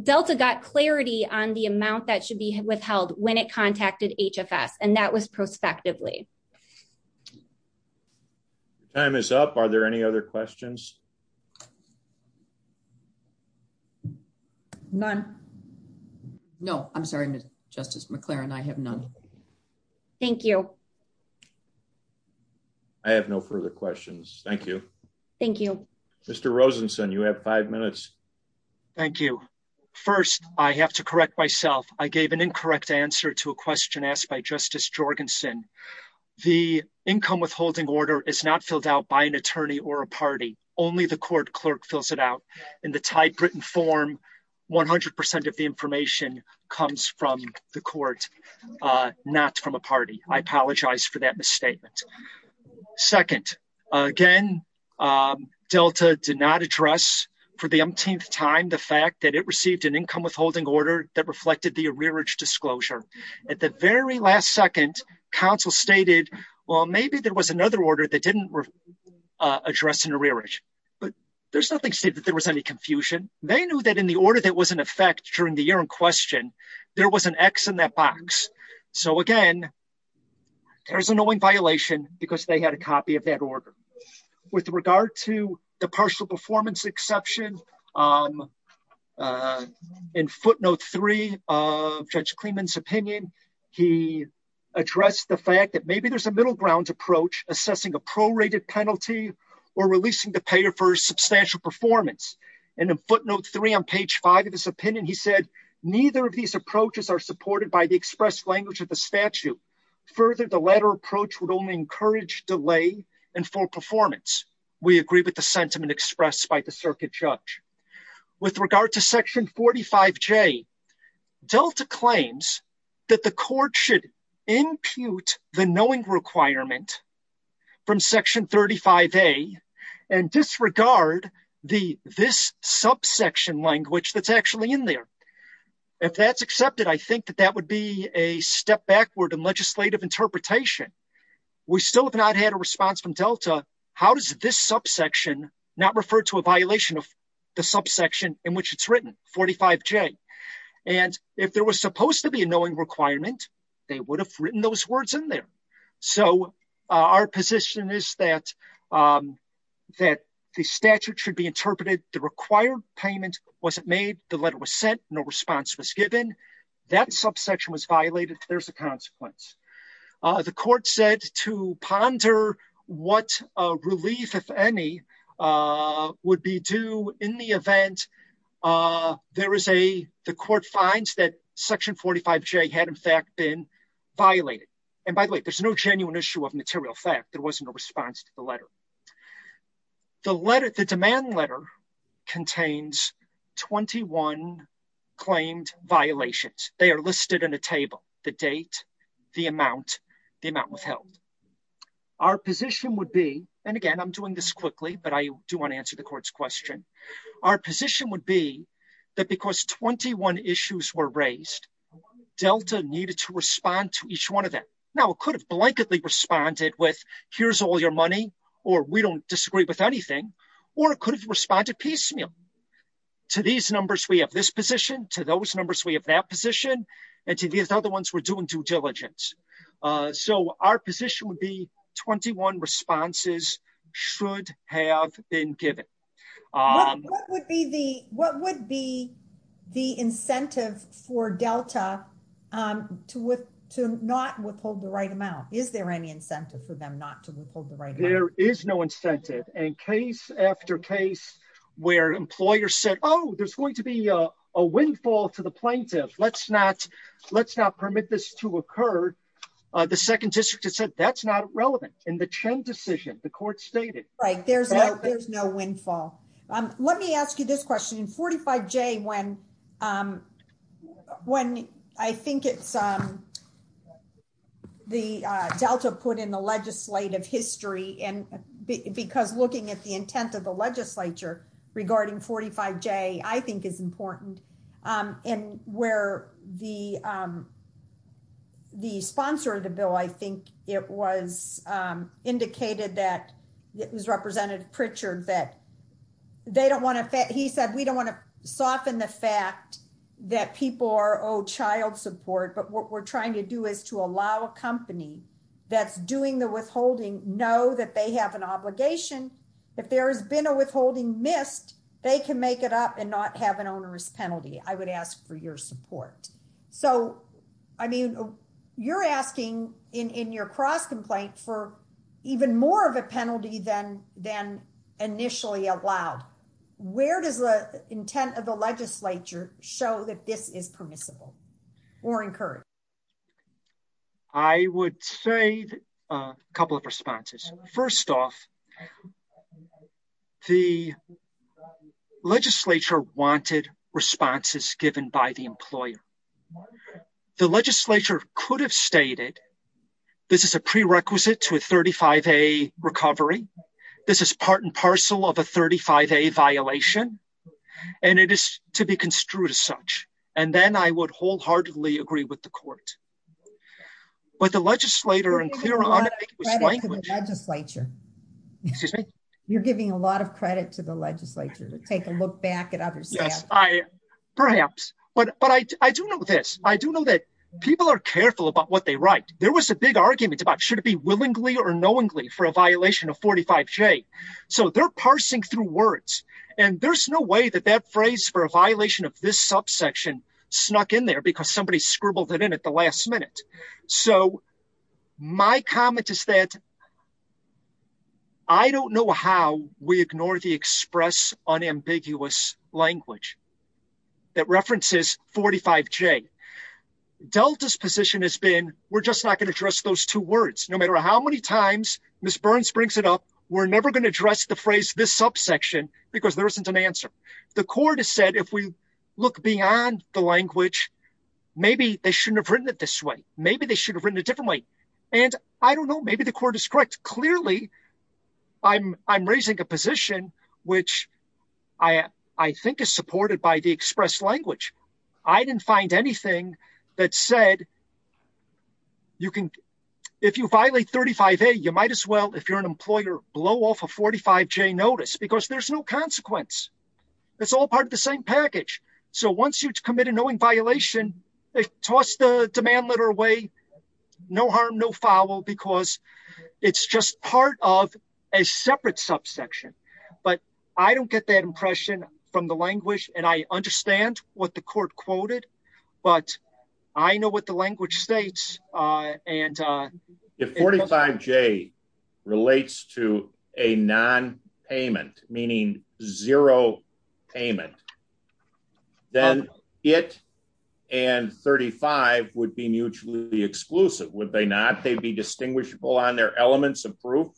Delta got clarity on the amount that should be withheld when it contacted HFS, and that was prospectively. Time is up. Are there any other questions? None. No, I'm sorry, Justice McClaren, I have none. Thank you. I have no further questions. Thank you. Thank you. Mr. Rosenson, you have five minutes. Thank you. First, I have to correct myself. I gave an incorrect answer to a question asked by Justice Jorgensen. The income withholding order is not filled out by an attorney or a party. Only the court clerk fills it out. In the typewritten form, 100% of the information comes from the court, not from a party. I apologize for that misstatement. Second, again, Delta did not address for the umpteenth time the fact that it received an income withholding order that reflected the rearage disclosure. At the very last second, counsel stated, well, maybe there was another order that didn't address an arrearage. But there's nothing stated that there was any confusion. They knew that in the order that was in effect during the year in question, there was an X in that box. So, again, there's an owing violation because they had a copy of that order. With regard to the partial performance exception, in footnote three of Judge Clemon's opinion, he addressed the fact that maybe there's a middle ground approach assessing a prorated penalty or releasing the payer for substantial performance. And in footnote three on page five of his opinion, he said, neither of these approaches are supported by the express language of the statute. Further, the latter approach would only encourage delay and full performance. We agree with the sentiment expressed by the circuit judge. With regard to section 45J, Delta claims that the court should impute the knowing requirement from section 35A and disregard this subsection language that's actually in there. If that's accepted, I think that that would be a step backward in legislative interpretation. We still have not had a response from Delta, how does this subsection not refer to a violation of the subsection in which it's written, 45J? And if there was supposed to be a knowing requirement, they would have written those words in there. So, our position is that the statute should be interpreted to require payment from the payer for substantial performance. If that's not the case, there's a consequence. If the subsection wasn't made, the letter was sent, no response was given, that subsection was violated, there's a consequence. The court said to ponder what a relief, if any, would be due in the event there is a, the court finds that section 45J had in fact been 21 claimed violations. They are listed in a table, the date, the amount, the amount withheld. Our position would be, and again, I'm doing this quickly, but I do want to answer the court's question. Our position would be that because 21 issues were raised, Delta needed to respond to each one of them. Now, it could have blanketly responded with, here's all your money, or we don't have to pay you. To these numbers, we have this position, to those numbers, we have that position, and to these other ones, we're doing due diligence. So, our position would be 21 responses should have been given. What would be the incentive for Delta to not withhold the right amount? Is there any incentive for them not to withhold the right amount? There is no incentive, and case after case where employers said, oh, there's going to be a windfall to the plaintiff. Let's not, let's not permit this to occur. The Second District has said that's not relevant. In the Chen decision, the court stated. Right, there's no, there's no windfall. Let me ask you this question. In 45J, when, when I think it's, the Delta put in the legislative history, and because looking at the intent of the legislature regarding 45J, I think it's important, and where the, the sponsor of the bill, I think it was indicated that it was Representative Pritchard, that they don't want to, he said, we don't want to soften the fact that people are owed child support, but what we're trying to do is to allow a company that's doing the withholding know that they have an obligation, that there has been a withholding missed, they can make it up and not have an onerous penalty. I would ask for your support. So, I mean, you're asking in, in your cross-complaint for even more of a penalty than, than initially allowed. Where does the intent of the legislature show that this is permissible or encouraged? I would say a couple of responses. First off, the legislature wanted responses given by the employer. The legislature could have stated this is a prerequisite to a 35A recovery, this is part and parcel of a 35A violation, and it is to be construed as such, and then I would wholeheartedly agree with the court. But the legislator, in clear, unambiguous language. You're giving a lot of credit to the legislature to take a look back at others. Yes, I, perhaps, but, but I, I do know this, I do know that people are careful about what they write. There was a big argument about should it be willingly or knowingly for a violation of 45J, so they're parsing through words, and there's no way that that phrase for a violation of this subsection snuck in there because somebody scribbled it in at the last minute. So my comment is that I don't know how we ignore the express unambiguous language that references 45J. Delta's position has been, we're just not going to address those two words. No matter how many times Ms. Burns brings it up, we're never going to address the phrase this subsection because there isn't an answer. The court has said if we look beyond the language, maybe they shouldn't have written it this way, maybe they should have written it differently, and I don't know, maybe the court is correct. Clearly, I'm, I'm raising a position which I, I think is supported by the express language. I didn't find anything that said you can, if you violate 35A, you might as well, if you're an employer, blow off a 45J notice because there's no consequence. It's all part of the same package. So once you've committed knowing violation, toss the demand letter away, no harm, no foul, because it's just part of a separate subsection. But I don't get that impression from the language, and I understand what the court quoted, but I know what the language states, uh, and uh, if 45J relates to a non-payment, meaning zero payment, then it and 35 would be mutually exclusive, would they not? They'd be distinguishable on their elements of proof?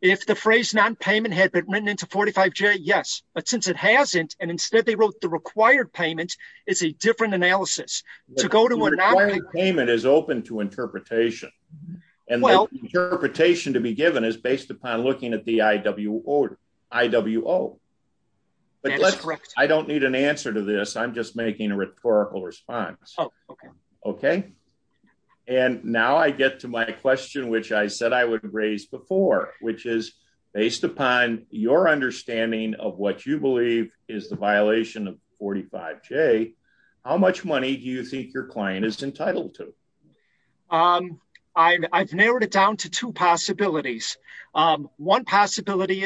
If the phrase non-payment had been written into 45J, yes, but since it hasn't, and instead they wrote the required payment, it's a different analysis. The required payment is open to interpretation, and the interpretation to be the IWO. I don't need an answer to this, I'm just making a rhetorical response. Okay, and now I get to my question, which I said I would raise before, which is based upon your understanding of what you believe is the violation of 45J, how much money do you think your client is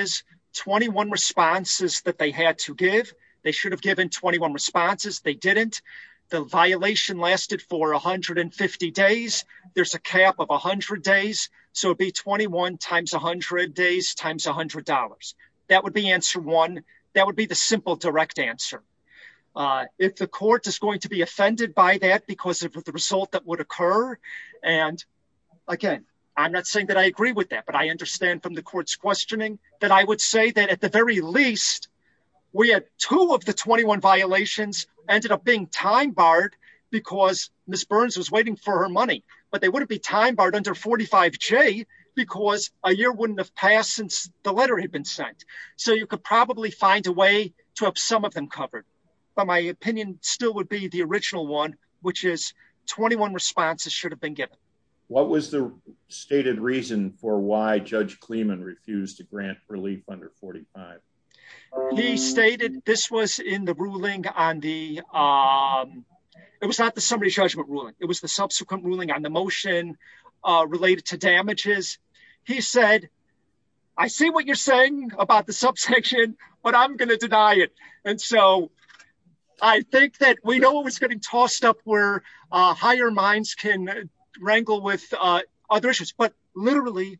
is 21 responses that they had to give? They should have given 21 responses, they didn't. The violation lasted for 150 days, there's a cap of 100 days, so it'd be 21 times 100 days times $100. That would be answer one, that would be the simple direct answer. Uh, if the court is going to be offended by that because of the result that would occur, and again, I'm not saying that I that I would say that at the very least we had two of the 21 violations ended up being time-barred because Ms. Burns was waiting for her money, but they wouldn't be time-barred under 45J because a year wouldn't have passed since the letter had been sent, so you could probably find a way to have some of them covered, but my opinion still would be the original one, which is 21 responses should have been given. What was the stated reason for why Judge Kleeman refused to grant relief under 45? He stated this was in the ruling on the, um, it was not the summary judgment ruling, it was the subsequent ruling on the motion related to damages. He said, I see what you're saying about the subsection, but I'm going to deny it, and so I think that we know it was getting messed up where, uh, higher minds can wrangle with, uh, other issues, but literally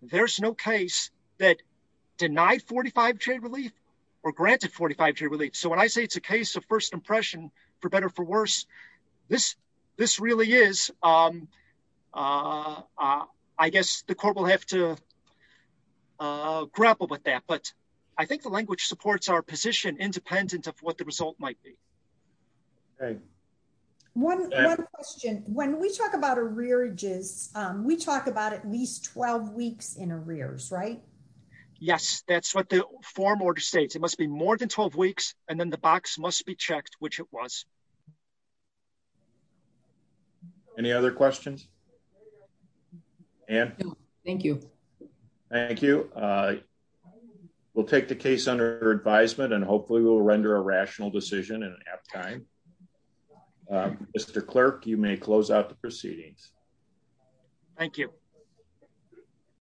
there's no case that denied 45J relief or granted 45J relief, so when I say it's a case of first impression, for better, for worse, this, this really is, um, uh, I guess the court will have to, uh, grapple with that, but I think the language supports our position independent of what the One question, when we talk about arrearages, um, we talk about at least 12 weeks in arrears, right? Yes, that's what the form order states. It must be more than 12 weeks, and then the box must be checked, which it was. Any other questions? Ann? Thank you. Thank you, uh, we'll take the case under advisement, and hopefully we'll render a rational decision at that time. Mr. Clerk, you may close out the proceedings. Thank you.